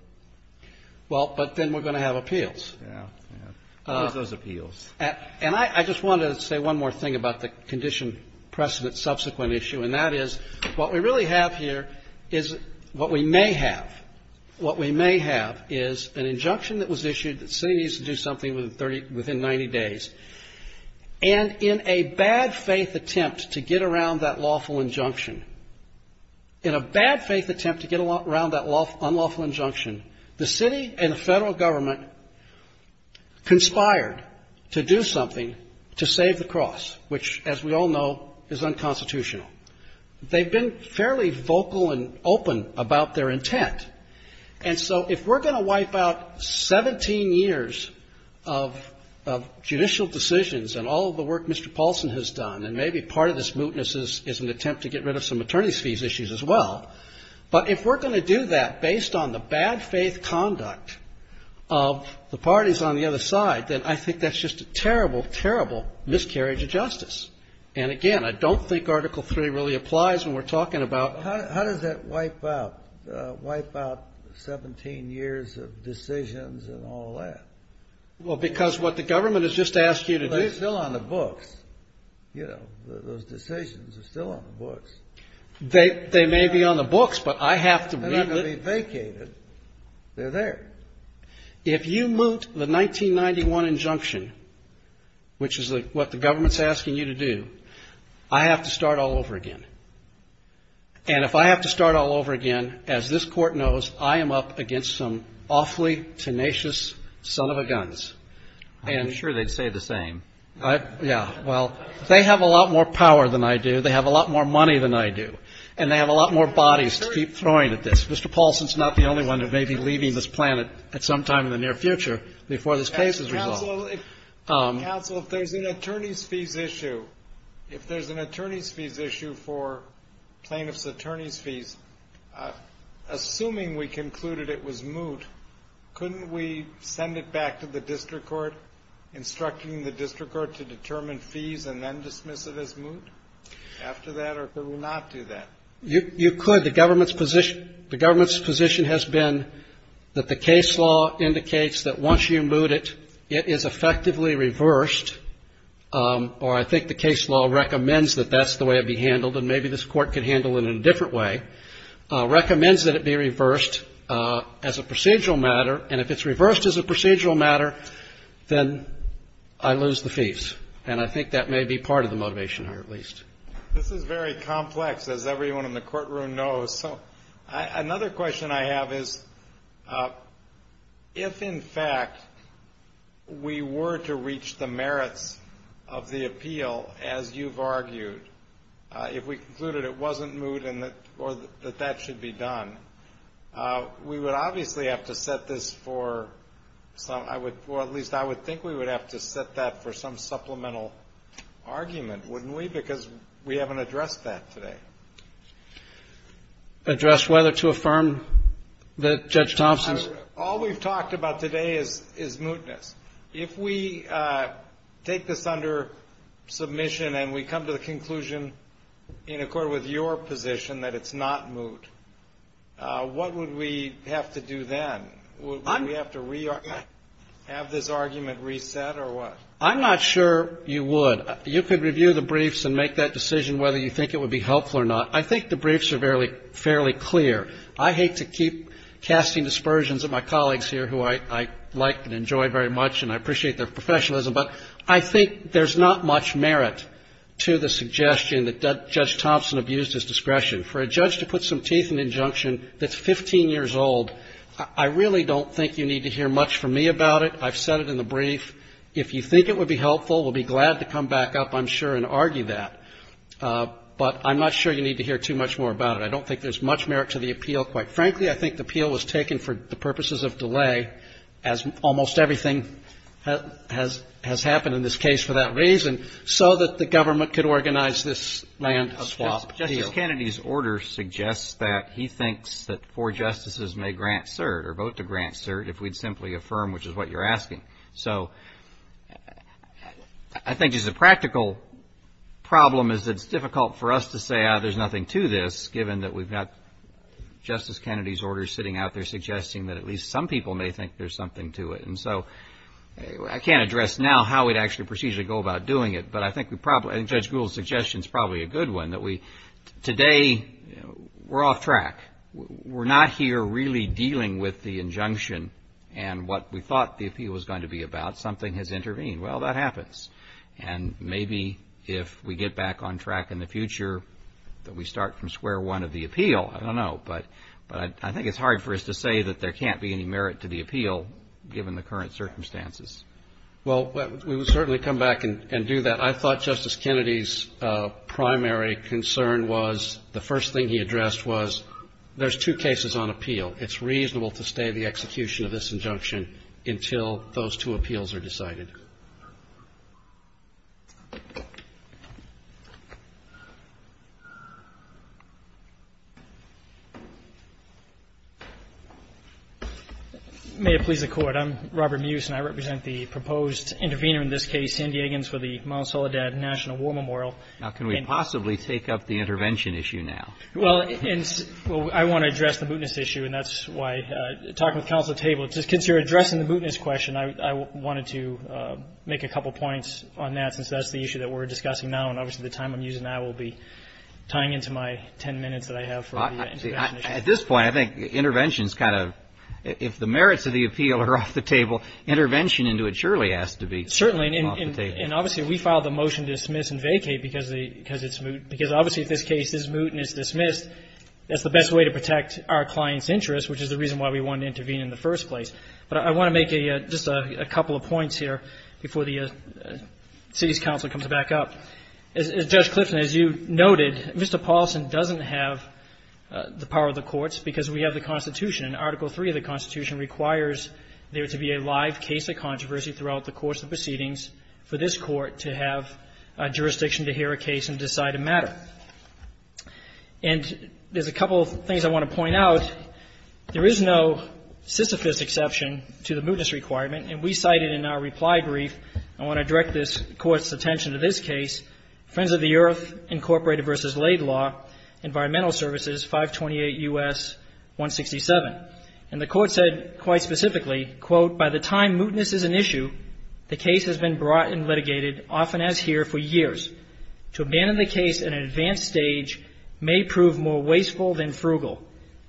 Well, but then we're going to have appeals. Yeah, yeah. We'll use those appeals. And I just wanted to say one more thing about the condition precedent subsequent issue, and that is what we really have here is what we may have. What we may have is an injunction that was issued that the city needs to do something within 90 days. And in a bad-faith attempt to get around that lawful injunction, in a bad-faith attempt to get around that unlawful injunction, the city and the Federal Government conspired to do something to save the cross, which, as we all know, is unconstitutional. They've been fairly vocal and open about their intent. And so if we're going to wipe out 17 years of judicial decisions and all of the work Mr. Paulson has done, and maybe part of this mootness is an attempt to get rid of some attorney's fees issues as well, but if we're going to do that based on the bad-faith conduct of the parties on the other side, then I think that's just a terrible, terrible miscarriage of justice. And, again, I don't think Article III really applies when we're talking about ---- How does that wipe out 17 years of decisions and all that? Well, because what the government has just asked you to do ---- They're still on the books. You know, those decisions are still on the books. They may be on the books, but I have to read them. They're not going to be vacated. They're there. If you moot the 1991 injunction, which is what the government's asking you to do, I have to start all over again. And if I have to start all over again, as this Court knows, I am up against some awfully tenacious son of a guns. I'm sure they'd say the same. Yeah. Well, they have a lot more power than I do. They have a lot more money than I do. And they have a lot more bodies to keep throwing at this. Mr. Paulson's not the only one who may be leaving this planet at some time in the near future before this case is resolved. Counsel, if there's an attorney's fees issue, if there's an attorney's fees issue for plaintiff's attorney's fees, assuming we concluded it was moot, couldn't we send it back to the district court, instructing the district court to determine fees and then dismiss it as moot after that, or could we not do that? You could. The government's position has been that the case law indicates that once you moot it, it is effectively reversed, or I think the case law recommends that that's the way it be handled, and maybe this Court could handle it in a different way, recommends that it be reversed as a procedural matter. And if it's reversed as a procedural matter, then I lose the fees. And I think that may be part of the motivation here, at least. This is very complex, as everyone in the courtroom knows. So another question I have is if, in fact, we were to reach the merits of the appeal, as you've argued, if we concluded it wasn't moot or that that should be done, we would obviously have to set this for some, or at least I would think we would have to set that for some supplemental argument, wouldn't we? Because we haven't addressed that today. Address whether to affirm that Judge Thompson's? All we've talked about today is mootness. If we take this under submission and we come to the conclusion in accord with your position that it's not moot, what would we have to do then? Would we have to have this argument reset or what? I'm not sure you would. You could review the briefs and make that decision whether you think it would be helpful or not. I think the briefs are fairly clear. I hate to keep casting dispersions at my colleagues here who I like and enjoy very much and I appreciate their professionalism, but I think there's not much merit to the suggestion that Judge Thompson abused his discretion. For a judge to put some teeth in injunction that's 15 years old, I really don't think you need to hear much from me about it. I've said it in the brief. If you think it would be helpful, we'll be glad to come back up, I'm sure, and argue that. But I'm not sure you need to hear too much more about it. I don't think there's much merit to the appeal. Quite frankly, I think the appeal was taken for the purposes of delay, as almost everything has happened in this case for that reason, so that the government could organize this land swap deal. Justice Kennedy's order suggests that he thinks that four justices may grant cert or vote to grant cert if we'd simply affirm, which is what you're asking. So I think just the practical problem is that it's difficult for us to say, ah, there's nothing to this, given that we've got Justice Kennedy's order sitting out there suggesting that at least some people may think there's something to it. And so I can't address now how we'd actually procedurally go about doing it, but I think Judge Gould's suggestion is probably a good one, that today we're off track. We're not here really dealing with the injunction and what we thought the appeal was going to be about. Something has intervened. Well, that happens. And maybe if we get back on track in the future, that we start from square one of the appeal. I don't know. But I think it's hard for us to say that there can't be any merit to the appeal, given the current circumstances. Well, we will certainly come back and do that. I thought Justice Kennedy's primary concern was, the first thing he addressed was, there's two cases on appeal. It's reasonable to stay the execution of this injunction until those two appeals are decided. I'm Robert Muse, and I represent the proposed intervener in this case, San Diegans, for the Mount Soledad National War Memorial. Now, can we possibly take up the intervention issue now? Well, I want to address the mootness issue, and that's why talking with counsel at the table, since you're addressing the mootness question, I wanted to make a couple points on that, since that's the issue that we're discussing now, and obviously the time I'm using now will be tying into my ten minutes that I have for the intervention issue. At this point, I think intervention is kind of, if the merits of the appeal are off the table, intervention into it surely has to be off the table. Certainly, and obviously we filed the motion to dismiss and vacate because it's moot, because obviously if this case is moot and it's dismissed, that's the best way to protect our client's interest, which is the reason why we wanted to intervene in the first place. But I want to make just a couple of points here before the city's counsel comes back up. Now, Judge Clifton, as you noted, Mr. Paulson doesn't have the power of the courts because we have the Constitution, and Article III of the Constitution requires there to be a live case of controversy throughout the course of proceedings for this Court to have jurisdiction to hear a case and decide a matter. And there's a couple of things I want to point out. There is no Sisyphus exception to the mootness requirement, and we cited in our reply brief I want to direct this Court's attention to this case, Friends of the Earth, Incorporated v. Laidlaw, Environmental Services, 528 U.S. 167. And the Court said quite specifically, quote, By the time mootness is an issue, the case has been brought and litigated, often as here, for years. To abandon the case at an advanced stage may prove more wasteful than frugal.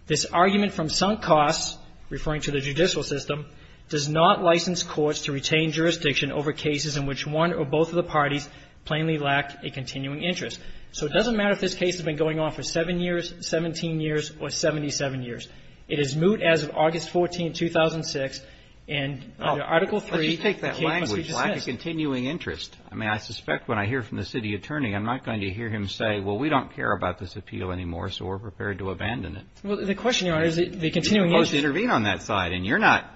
This argument from sunk costs, referring to the judicial system, does not license courts to retain jurisdiction over cases in which one or both of the parties plainly lack a continuing interest. So it doesn't matter if this case has been going on for 7 years, 17 years, or 77 years. It is moot as of August 14, 2006, and under Article III, the case must be dismissed. Let's just take that language, lack of continuing interest. I mean, I suspect when I hear from the city attorney, I'm not going to hear him say, well, we don't care about this appeal anymore, so we're prepared to abandon it. Well, the question, Your Honor, is the continuing interest. You're supposed to intervene on that side, and you're not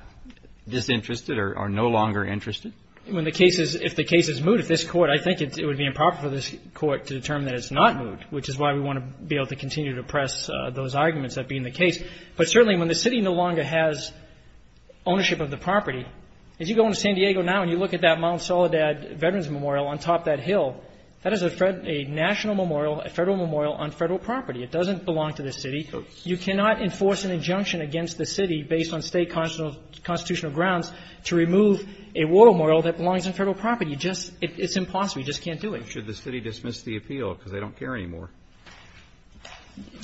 disinterested or no longer interested? When the case is, if the case is moot, if this Court, I think it would be improper for this Court to determine that it's not moot, which is why we want to be able to continue to press those arguments that being the case. But certainly when the city no longer has ownership of the property, as you go into San Diego now and you look at that Mount Soledad Veterans Memorial on top of that hill, that is a national memorial, a Federal memorial on Federal property. It doesn't belong to the city. You cannot enforce an injunction against the city based on State constitutional grounds to remove a memorial that belongs on Federal property. You just, it's impossible. You just can't do it. Should the city dismiss the appeal because they don't care anymore?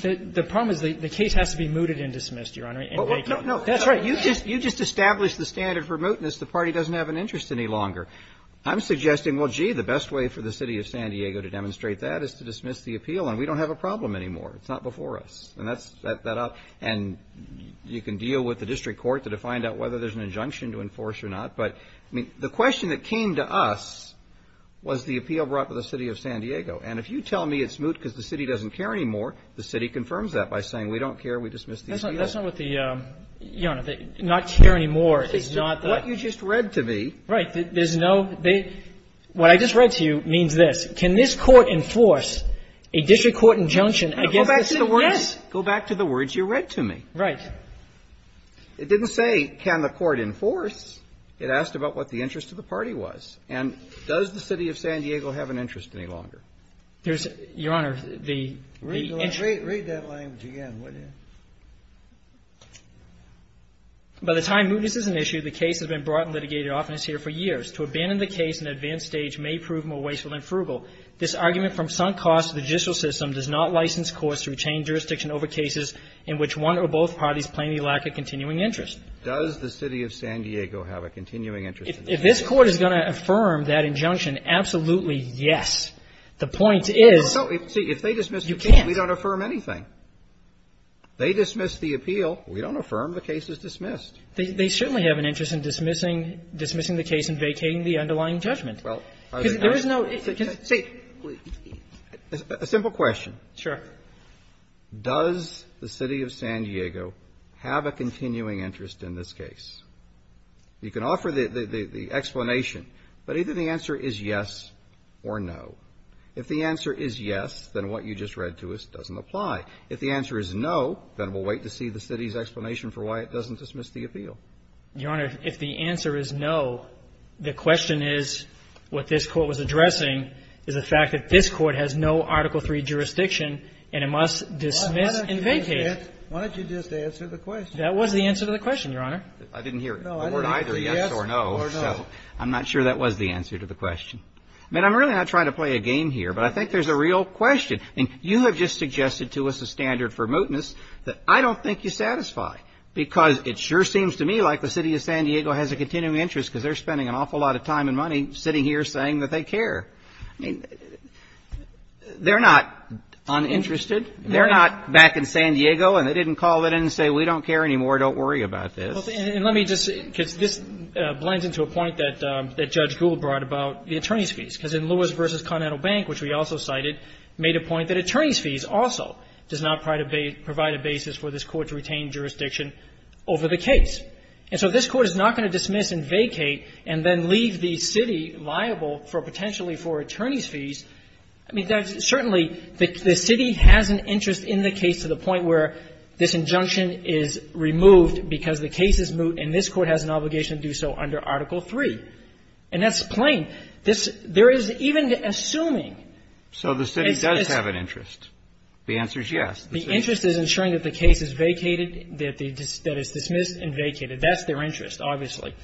The problem is the case has to be mooted and dismissed, Your Honor. No, no. That's right. You just established the standard for mootness. The party doesn't have an interest any longer. I'm suggesting, well, gee, the best way for the city of San Diego to demonstrate that is to dismiss the appeal, and we don't have a problem anymore. It's not before us. And that's that up. And you can deal with the district court to find out whether there's an injunction to enforce or not. But, I mean, the question that came to us was the appeal brought to the city of San Diego. And if you tell me it's moot because the city doesn't care anymore, the city confirms that by saying we don't care, we dismiss the appeal. That's not what the, Your Honor, the not care anymore is not the – What you just read to me – Right. There's no – what I just read to you means this. Can this court enforce a district court injunction against the city? Yes. Go back to the words you read to me. Right. It didn't say can the court enforce. It asked about what the interest of the party was. And does the city of San Diego have an interest any longer? Your Honor, the – Read that language again, would you? By the time mootness is an issue, the case has been brought and litigated often as here for years. Does the city of San Diego have a continuing interest in the case? If this Court is going to affirm that injunction, absolutely, yes. The point is – No. See, if they dismiss the case, we don't affirm anything. You can't. They dismiss the appeal. We don't affirm the case is dismissed. They certainly have an interest in dismissing the case and vacating it. Well, are they not? See, a simple question. Sure. Does the city of San Diego have a continuing interest in this case? You can offer the explanation, but either the answer is yes or no. If the answer is yes, then what you just read to us doesn't apply. If the answer is no, then we'll wait to see the city's explanation for why it doesn't dismiss the appeal. Your Honor, if the answer is no, the question is what this Court was addressing is the fact that this Court has no Article III jurisdiction, and it must dismiss and vacate. Why don't you just answer the question? That was the answer to the question, Your Honor. I didn't hear the word either, yes or no. I'm not sure that was the answer to the question. I mean, I'm really not trying to play a game here, but I think there's a real question. You have just suggested to us a standard for mootness that I don't think you satisfy because it sure seems to me like the city of San Diego has a continuing interest because they're spending an awful lot of time and money sitting here saying that they care. I mean, they're not uninterested. They're not back in San Diego and they didn't call it in and say we don't care anymore, don't worry about this. And let me just say, because this blends into a point that Judge Gould brought about the attorney's fees, because in Lewis v. Continental Bank, which we also cited, made a point that attorney's fees also does not provide a basis for this Court to retain jurisdiction over the case. And so if this Court is not going to dismiss and vacate and then leave the city liable for potentially for attorney's fees, I mean, certainly the city has an interest in the case to the point where this injunction is removed because the case is moot and this Court has an obligation to do so under Article III. And that's plain. There is even assuming. So the city does have an interest. The answer is yes. The interest is ensuring that the case is vacated, that it's dismissed and vacated. That's their interest, obviously.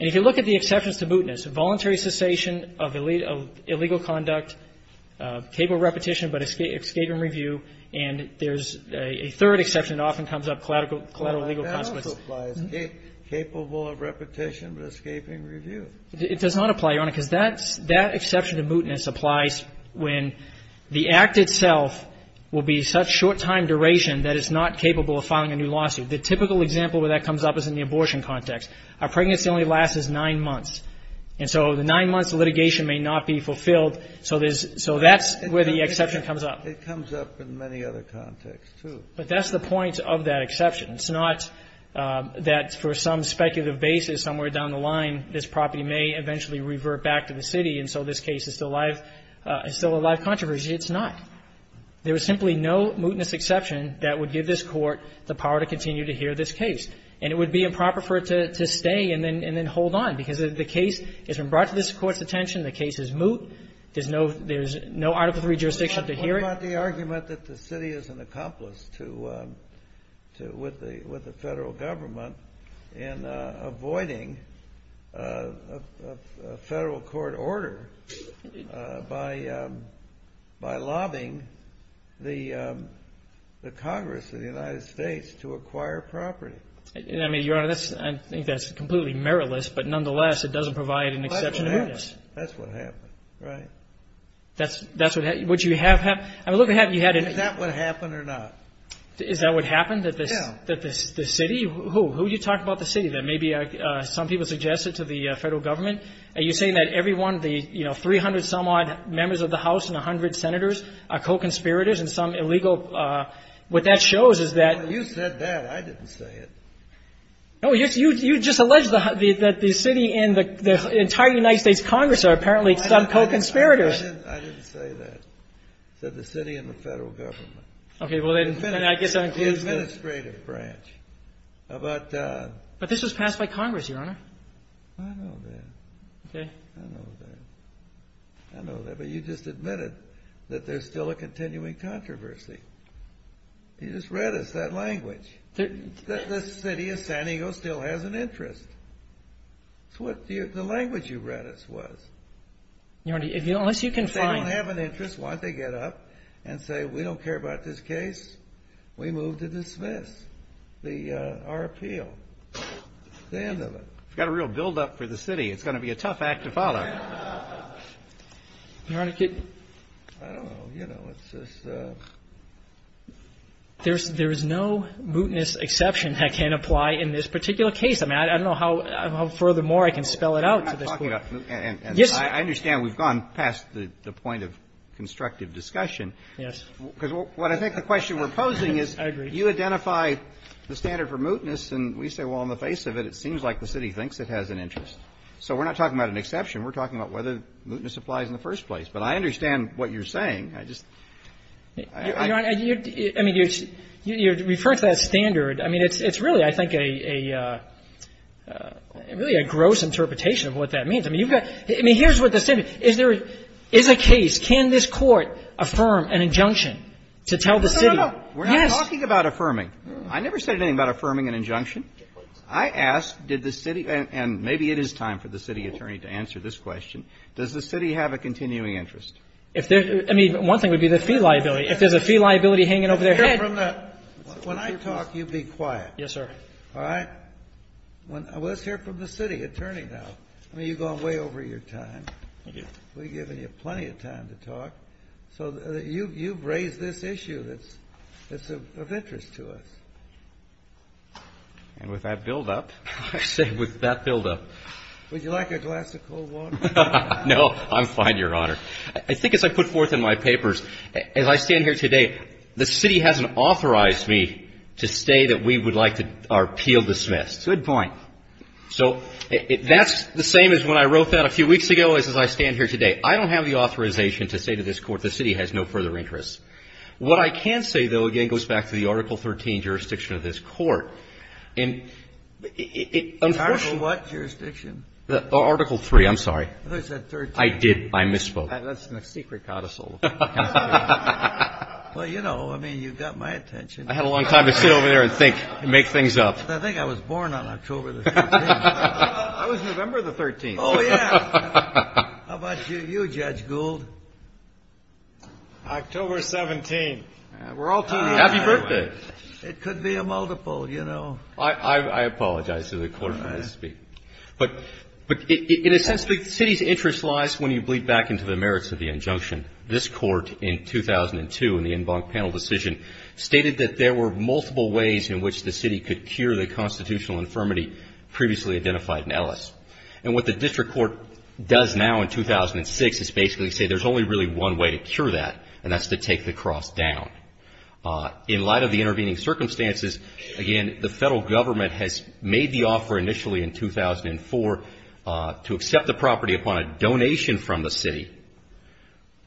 And if you look at the exceptions to mootness, voluntary cessation of illegal conduct, capable repetition but escaping review, and there's a third exception that often comes up, collateral legal consequences. That also applies, capable of repetition but escaping review. It does not apply, Your Honor, because that exception to mootness applies when the is not capable of filing a new lawsuit. The typical example where that comes up is in the abortion context. A pregnancy only lasts nine months. And so the nine months of litigation may not be fulfilled. So there's so that's where the exception comes up. It comes up in many other contexts, too. But that's the point of that exception. It's not that for some speculative basis somewhere down the line this property may eventually revert back to the city, and so this case is still a live controversy. It's not. There is simply no mootness exception that would give this Court the power to continue to hear this case. And it would be improper for it to stay and then hold on because the case has been brought to this Court's attention. The case is moot. There's no Article III jurisdiction to hear it. What about the argument that the city is an accomplice to the Federal Government in avoiding a Federal court order by lobbying the Congress of the United States to acquire property? I mean, Your Honor, I think that's completely meritless, but nonetheless it doesn't provide an exception to mootness. That's what happened. That's what happened. Right. That's what happened? Would you have had? Is that what happened or not? Is that what happened? Yeah. So you're saying that the city? Who? Who are you talking about the city? That maybe some people suggested to the Federal Government? Are you saying that everyone, the, you know, 300-some-odd members of the House and 100 senators are co-conspirators in some illegal? What that shows is that You said that. I didn't say it. No, you just alleged that the city and the entire United States Congress are apparently some co-conspirators. I didn't say that. I said the city and the Federal Government. Okay. Well, then I guess that includes The administrative branch. But this was passed by Congress, Your Honor. I know that. Okay. I know that. I know that. But you just admitted that there's still a continuing controversy. You just read us that language. The city of San Diego still has an interest. It's what the language you read us was. Your Honor, unless you can find I don't have an interest. Why don't they get up and say, we don't care about this case. We move to dismiss our appeal. That's the end of it. You've got a real buildup for the city. It's going to be a tough act to follow. Your Honor, could I don't know. You know, it's just There's no mootness exception that can apply in this particular case. I mean, I don't know how furthermore I can spell it out to this Court. And I understand we've gone past the point of constructive discussion. Yes. Because what I think the question we're posing is I agree. You identify the standard for mootness, and we say, well, on the face of it, it seems like the city thinks it has an interest. So we're not talking about an exception. We're talking about whether mootness applies in the first place. But I understand what you're saying. I just Your Honor, I mean, you're referring to that standard. I mean, it's really, I think, a really a gross interpretation of what that means. I mean, you've got I mean, here's what the city Is there Is a case, can this Court affirm an injunction to tell the city No, no, no. We're not talking about affirming. I never said anything about affirming an injunction. I asked, did the city And maybe it is time for the city attorney to answer this question. Does the city have a continuing interest? If there I mean, one thing would be the fee liability. If there's a fee liability hanging over their head When I talk, you be quiet. Yes, sir. All right. Let's hear from the city attorney now. I mean, you've gone way over your time. Thank you. We've given you plenty of time to talk. So you've raised this issue that's of interest to us. And with that buildup I say, with that buildup Would you like a glass of cold water? No, I'm fine, Your Honor. I think as I put forth in my papers, as I stand here today, The city hasn't authorized me to say that we would like our appeal dismissed. Good point. So that's the same as when I wrote that a few weeks ago as I stand here today. I don't have the authorization to say to this Court, the city has no further interest. What I can say, though, again, goes back to the Article 13 jurisdiction of this Court. And it Article what jurisdiction? Article 3. I'm sorry. I thought you said 13. I did. I misspoke. That's a secret codicil. Well, you know, I mean, you got my attention. I had a long time to sit over there and think and make things up. I think I was born on October the 13th. I was November the 13th. Oh, yeah. How about you, Judge Gould? October 17th. We're all too young. Happy birthday. It could be a multiple, you know. I apologize to the Court for this speech. But in a sense, the city's interest lies when you bleed back into the merits of the injunction. This Court, in 2002, in the en banc panel decision, stated that there were multiple ways in which the city could cure the constitutional infirmity previously identified in Ellis. And what the district court does now in 2006 is basically say there's only really one way to cure that, and that's to take the cross down. In light of the intervening circumstances, again, has made the offer initially in 2004 to accept the property upon a donation from the city.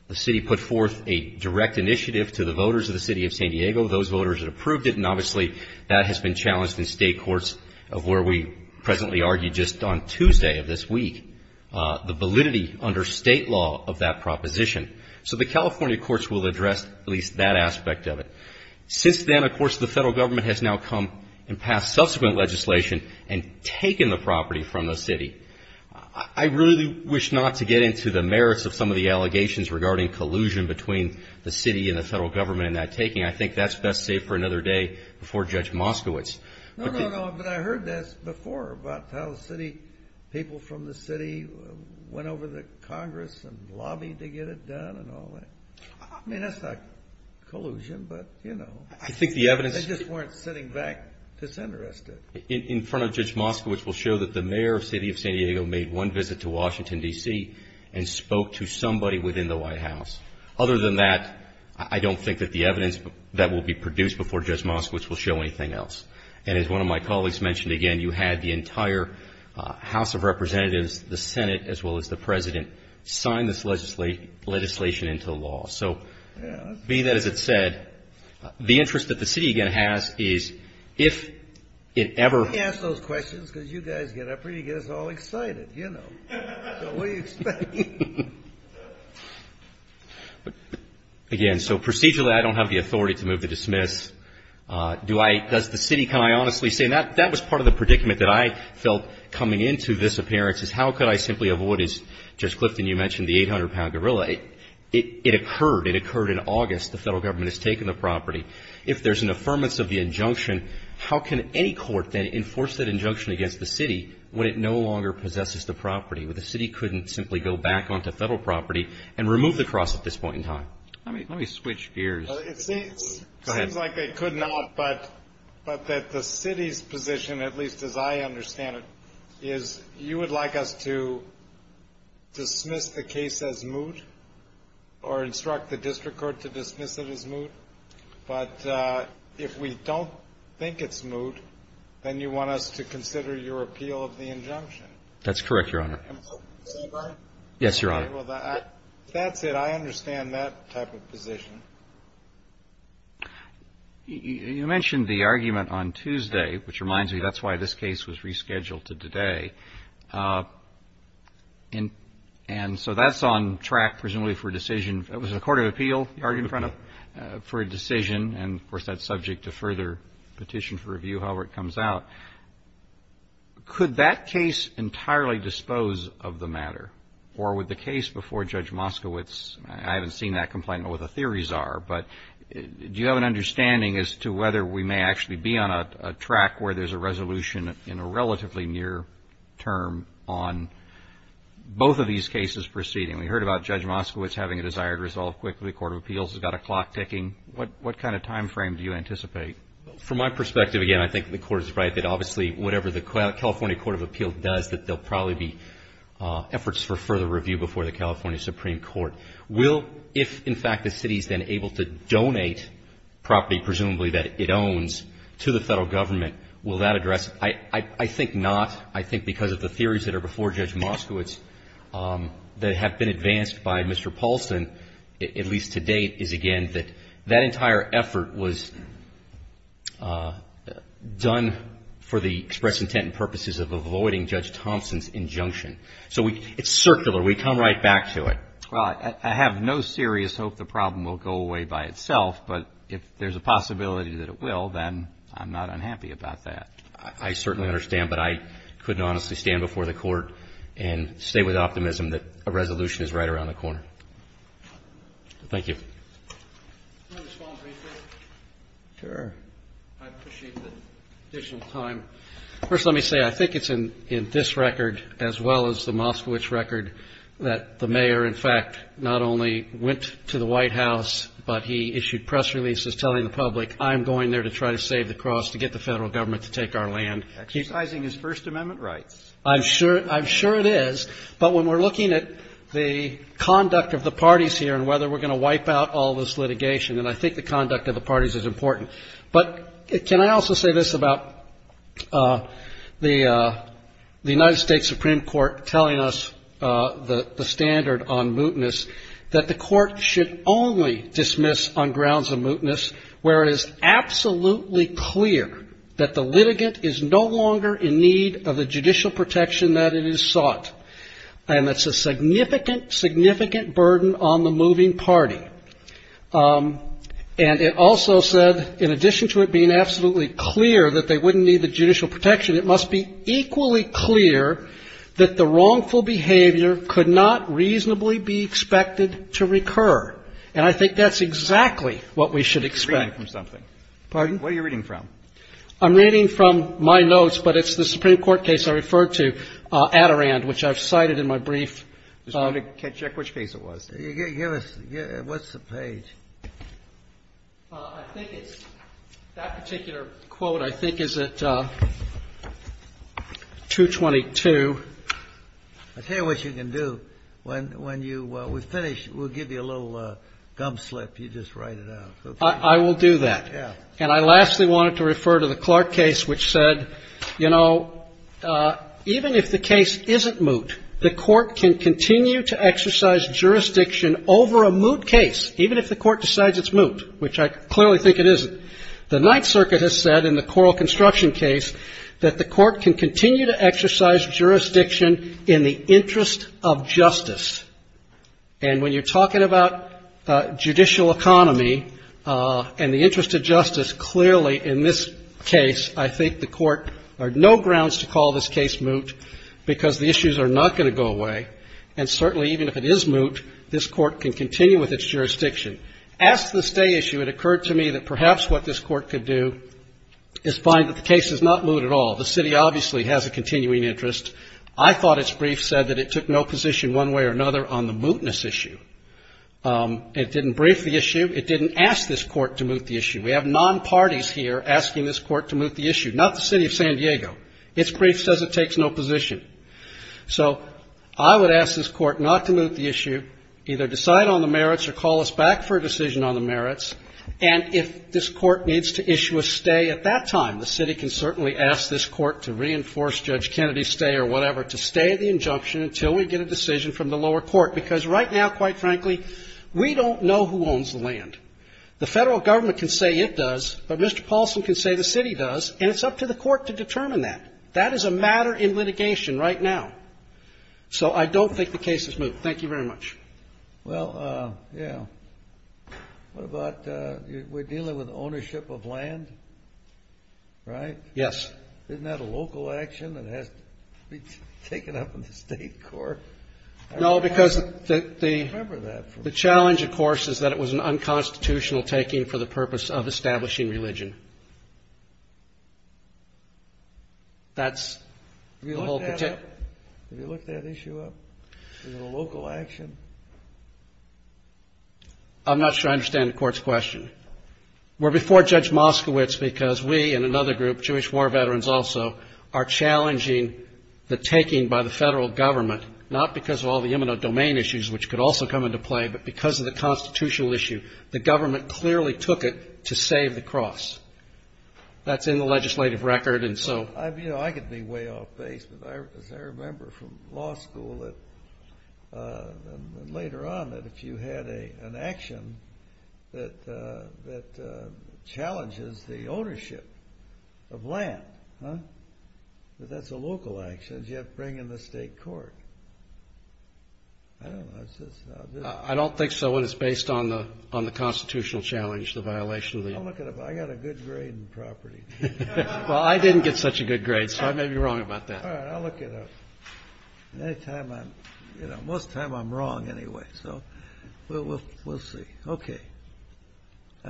The city put forth a direct initiative to the voters of the city of San Diego. Those voters had approved it, and obviously that has been challenged in state courts of where we presently argue just on Tuesday of this week, the validity under state law of that proposition. So the California courts will address at least that aspect of it. Since then, of course, the federal government has now come and passed subsequent legislation and taken the property from the city. I really wish not to get into the merits of some of the allegations regarding collusion between the city and the federal government in that taking. I think that's best saved for another day before Judge Moskowitz. No, no, no, but I heard this before about how the city, people from the city, went over to Congress and lobbied to get it done and all that. I mean, that's not collusion, but, you know, they just weren't sitting back disinterested. In front of Judge Moskowitz will show that the mayor of the city of San Diego made one visit to Washington, D.C., and spoke to somebody within the White House. Other than that, I don't think that the evidence that will be produced before Judge Moskowitz will show anything else. And as one of my colleagues mentioned, again, you had the entire House of Representatives, the Senate, as well as the President, sign this legislation into law. So being that as it's said, the interest that the city, again, has is if it ever... Let me ask those questions because you guys get up here and you get us all excited, you know. So what are you expecting? Again, so procedurally I don't have the authority to move to dismiss. Does the city, can I honestly say, and that was part of the predicament that I felt coming into this appearance, is how could I simply avoid, as Judge Clifton, you mentioned, the 800-pound gorilla. It occurred. It occurred in August. The federal government has taken the property. If there's an affirmance of the injunction, how can any court then enforce that injunction against the city when it no longer possesses the property, when the city couldn't simply go back onto federal property and remove the cross at this point in time? Let me switch gears. It seems like they could not, but that the city's position, at least as I understand it, is you would like us to dismiss the case as moot or instruct the district court to dismiss it as moot. But if we don't think it's moot, then you want us to consider your appeal of the injunction. That's correct, Your Honor. Am I right? Yes, Your Honor. Okay. Well, that's it. I understand that type of position. You mentioned the argument on Tuesday, which reminds me, that's why this case was rescheduled to today. And so that's on track, presumably, for a decision. It was a court of appeal, the argument in front of it, for a decision. And, of course, that's subject to further petition for review however it comes out. Could that case entirely dispose of the matter? Or would the case before Judge Moskowitz, I haven't seen that complaint, what the theories are, but do you have an understanding as to whether we may actually be on a track where there's a resolution in a relatively near term on both of these cases proceeding? We heard about Judge Moskowitz having a desired resolve quickly. The Court of Appeals has got a clock ticking. What kind of time frame do you anticipate? From my perspective, again, I think the Court is right that, obviously, whatever the California Court of Appeals does, that there will probably be efforts for further review before the California Supreme Court. Will, if in fact the city is then able to donate property, presumably that it owns, to the Federal Government, will that address it? I think not. I think because of the theories that are before Judge Moskowitz that have been advanced by Mr. Paulson, at least to date, is, again, that that entire effort was done for the express intent and purposes of avoiding Judge Thompson's injunction. So it's circular. We come right back to it. Well, I have no serious hope the problem will go away by itself. But if there's a possibility that it will, then I'm not unhappy about that. I certainly understand. But I couldn't honestly stand before the Court and say with optimism that a resolution is right around the corner. Thank you. Can I respond briefly? Sure. I appreciate the additional time. First, let me say, I think it's in this record, as well as the Moskowitz record, that the mayor, in fact, not only went to the White House, but he issued press releases telling the public, I'm going there to try to save the cross, to get the Federal Government to take our land. Exercising his First Amendment rights. I'm sure it is. But when we're looking at the conduct of the parties here and whether we're going to wipe out all this litigation, and I think the conduct of the parties is important. But can I also say this about the United States Supreme Court telling us the standard on mootness, that the court should only dismiss on grounds of mootness where it is absolutely clear that the litigant is no longer in need of the judicial protection that it has sought. And that's a significant, significant burden on the moving party. And it also said, in addition to it being absolutely clear that they wouldn't need the judicial protection, it must be equally clear that the wrongful behavior could not reasonably be expected to recur. And I think that's exactly what we should expect. You're reading from something. Pardon? What are you reading from? I'm reading from my notes, but it's the Supreme Court case I referred to, Adirond, which I've cited in my brief. Check which case it was. What's the page? I think it's that particular quote. I think it's at 222. I'll tell you what you can do. When you finish, we'll give you a little gum slip. You just write it out. I will do that. And I lastly wanted to refer to the Clark case, which said, you know, even if the case isn't moot, the court can continue to exercise jurisdiction over a moot case, even if the court decides it's moot, which I clearly think it isn't. The Ninth Circuit has said in the Coral Construction case that the court can continue to exercise jurisdiction in the interest of justice. And when you're talking about judicial economy and the interest of justice, clearly in this case I think the court, there are no grounds to call this case moot because the issues are not going to go away. And certainly even if it is moot, this court can continue with its jurisdiction. As to the stay issue, it occurred to me that perhaps what this court could do is find that the case is not moot at all. The city obviously has a continuing interest. I thought its brief said that it took no position one way or another on the mootness issue. It didn't brief the issue. It didn't ask this court to moot the issue. We have non-parties here asking this court to moot the issue, not the city of San Diego. Its brief says it takes no position. So I would ask this court not to moot the issue, either decide on the merits or call us back for a decision on the merits. And if this court needs to issue a stay at that time, the city can certainly ask this court to reinforce Judge Kennedy's stay or whatever, to stay the injunction until we get a decision from the lower court. Because right now, quite frankly, we don't know who owns the land. The Federal Government can say it does, but Mr. Paulson can say the city does, and it's up to the court to determine that. That is a matter in litigation right now. So I don't think the case is moot. Thank you very much. Well, yeah, what about we're dealing with ownership of land, right? Yes. Isn't that a local action that has to be taken up in the state court? No, because the challenge, of course, is that it was an unconstitutional taking for the purpose of establishing religion. Have you looked that issue up? Is it a local action? I'm not sure I understand the court's question. We're before Judge Moskowitz because we and another group, Jewish war veterans also, are challenging the taking by the Federal Government, not because of all the immuno-domain issues, which could also come into play, but because of the constitutional issue. The government clearly took it to save the cross. That's in the legislative record. I could be way off base, but as I remember from law school and later on, that if you had an action that challenges the ownership of land, that that's a local action, you have to bring it in the state court. I don't think so, and it's based on the constitutional challenge, the violation of the law. I'll look it up. I got a good grade in property. Well, I didn't get such a good grade, so I may be wrong about that. All right, I'll look it up. Most of the time I'm wrong anyway, so we'll see. Okay.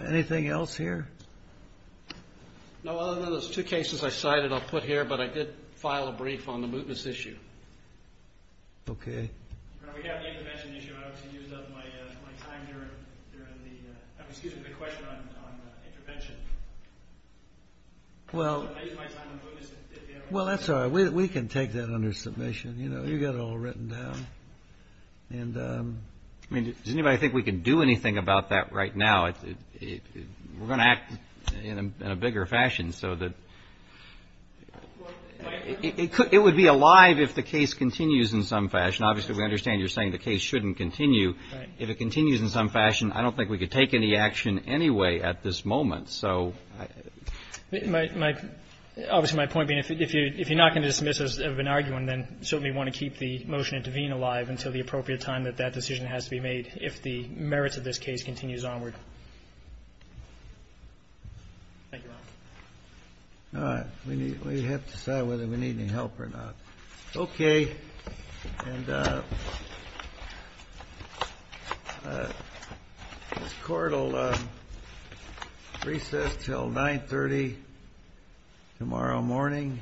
Anything else here? No, other than those two cases I cited I'll put here, but I did file a brief on the movements issue. Okay. We have the intervention issue. I obviously used up my time here. Excuse me for the question on intervention. I used my time on movements. Well, that's all right. We can take that under submission. You've got it all written down. Does anybody think we can do anything about that right now? We're going to act in a bigger fashion. It would be alive if the case continues in some fashion. Obviously, we understand you're saying the case shouldn't continue. If it continues in some fashion, I don't think we could take any action anyway at this moment. Obviously, my point being if you're not going to dismiss us of an argument, then you certainly want to keep the motion in Tavine alive until the appropriate time that that decision has to be made if the merits of this case continues onward. Thank you, Your Honor. All right. We have to decide whether we need any help or not. Okay. And this court will recess until 930 tomorrow morning.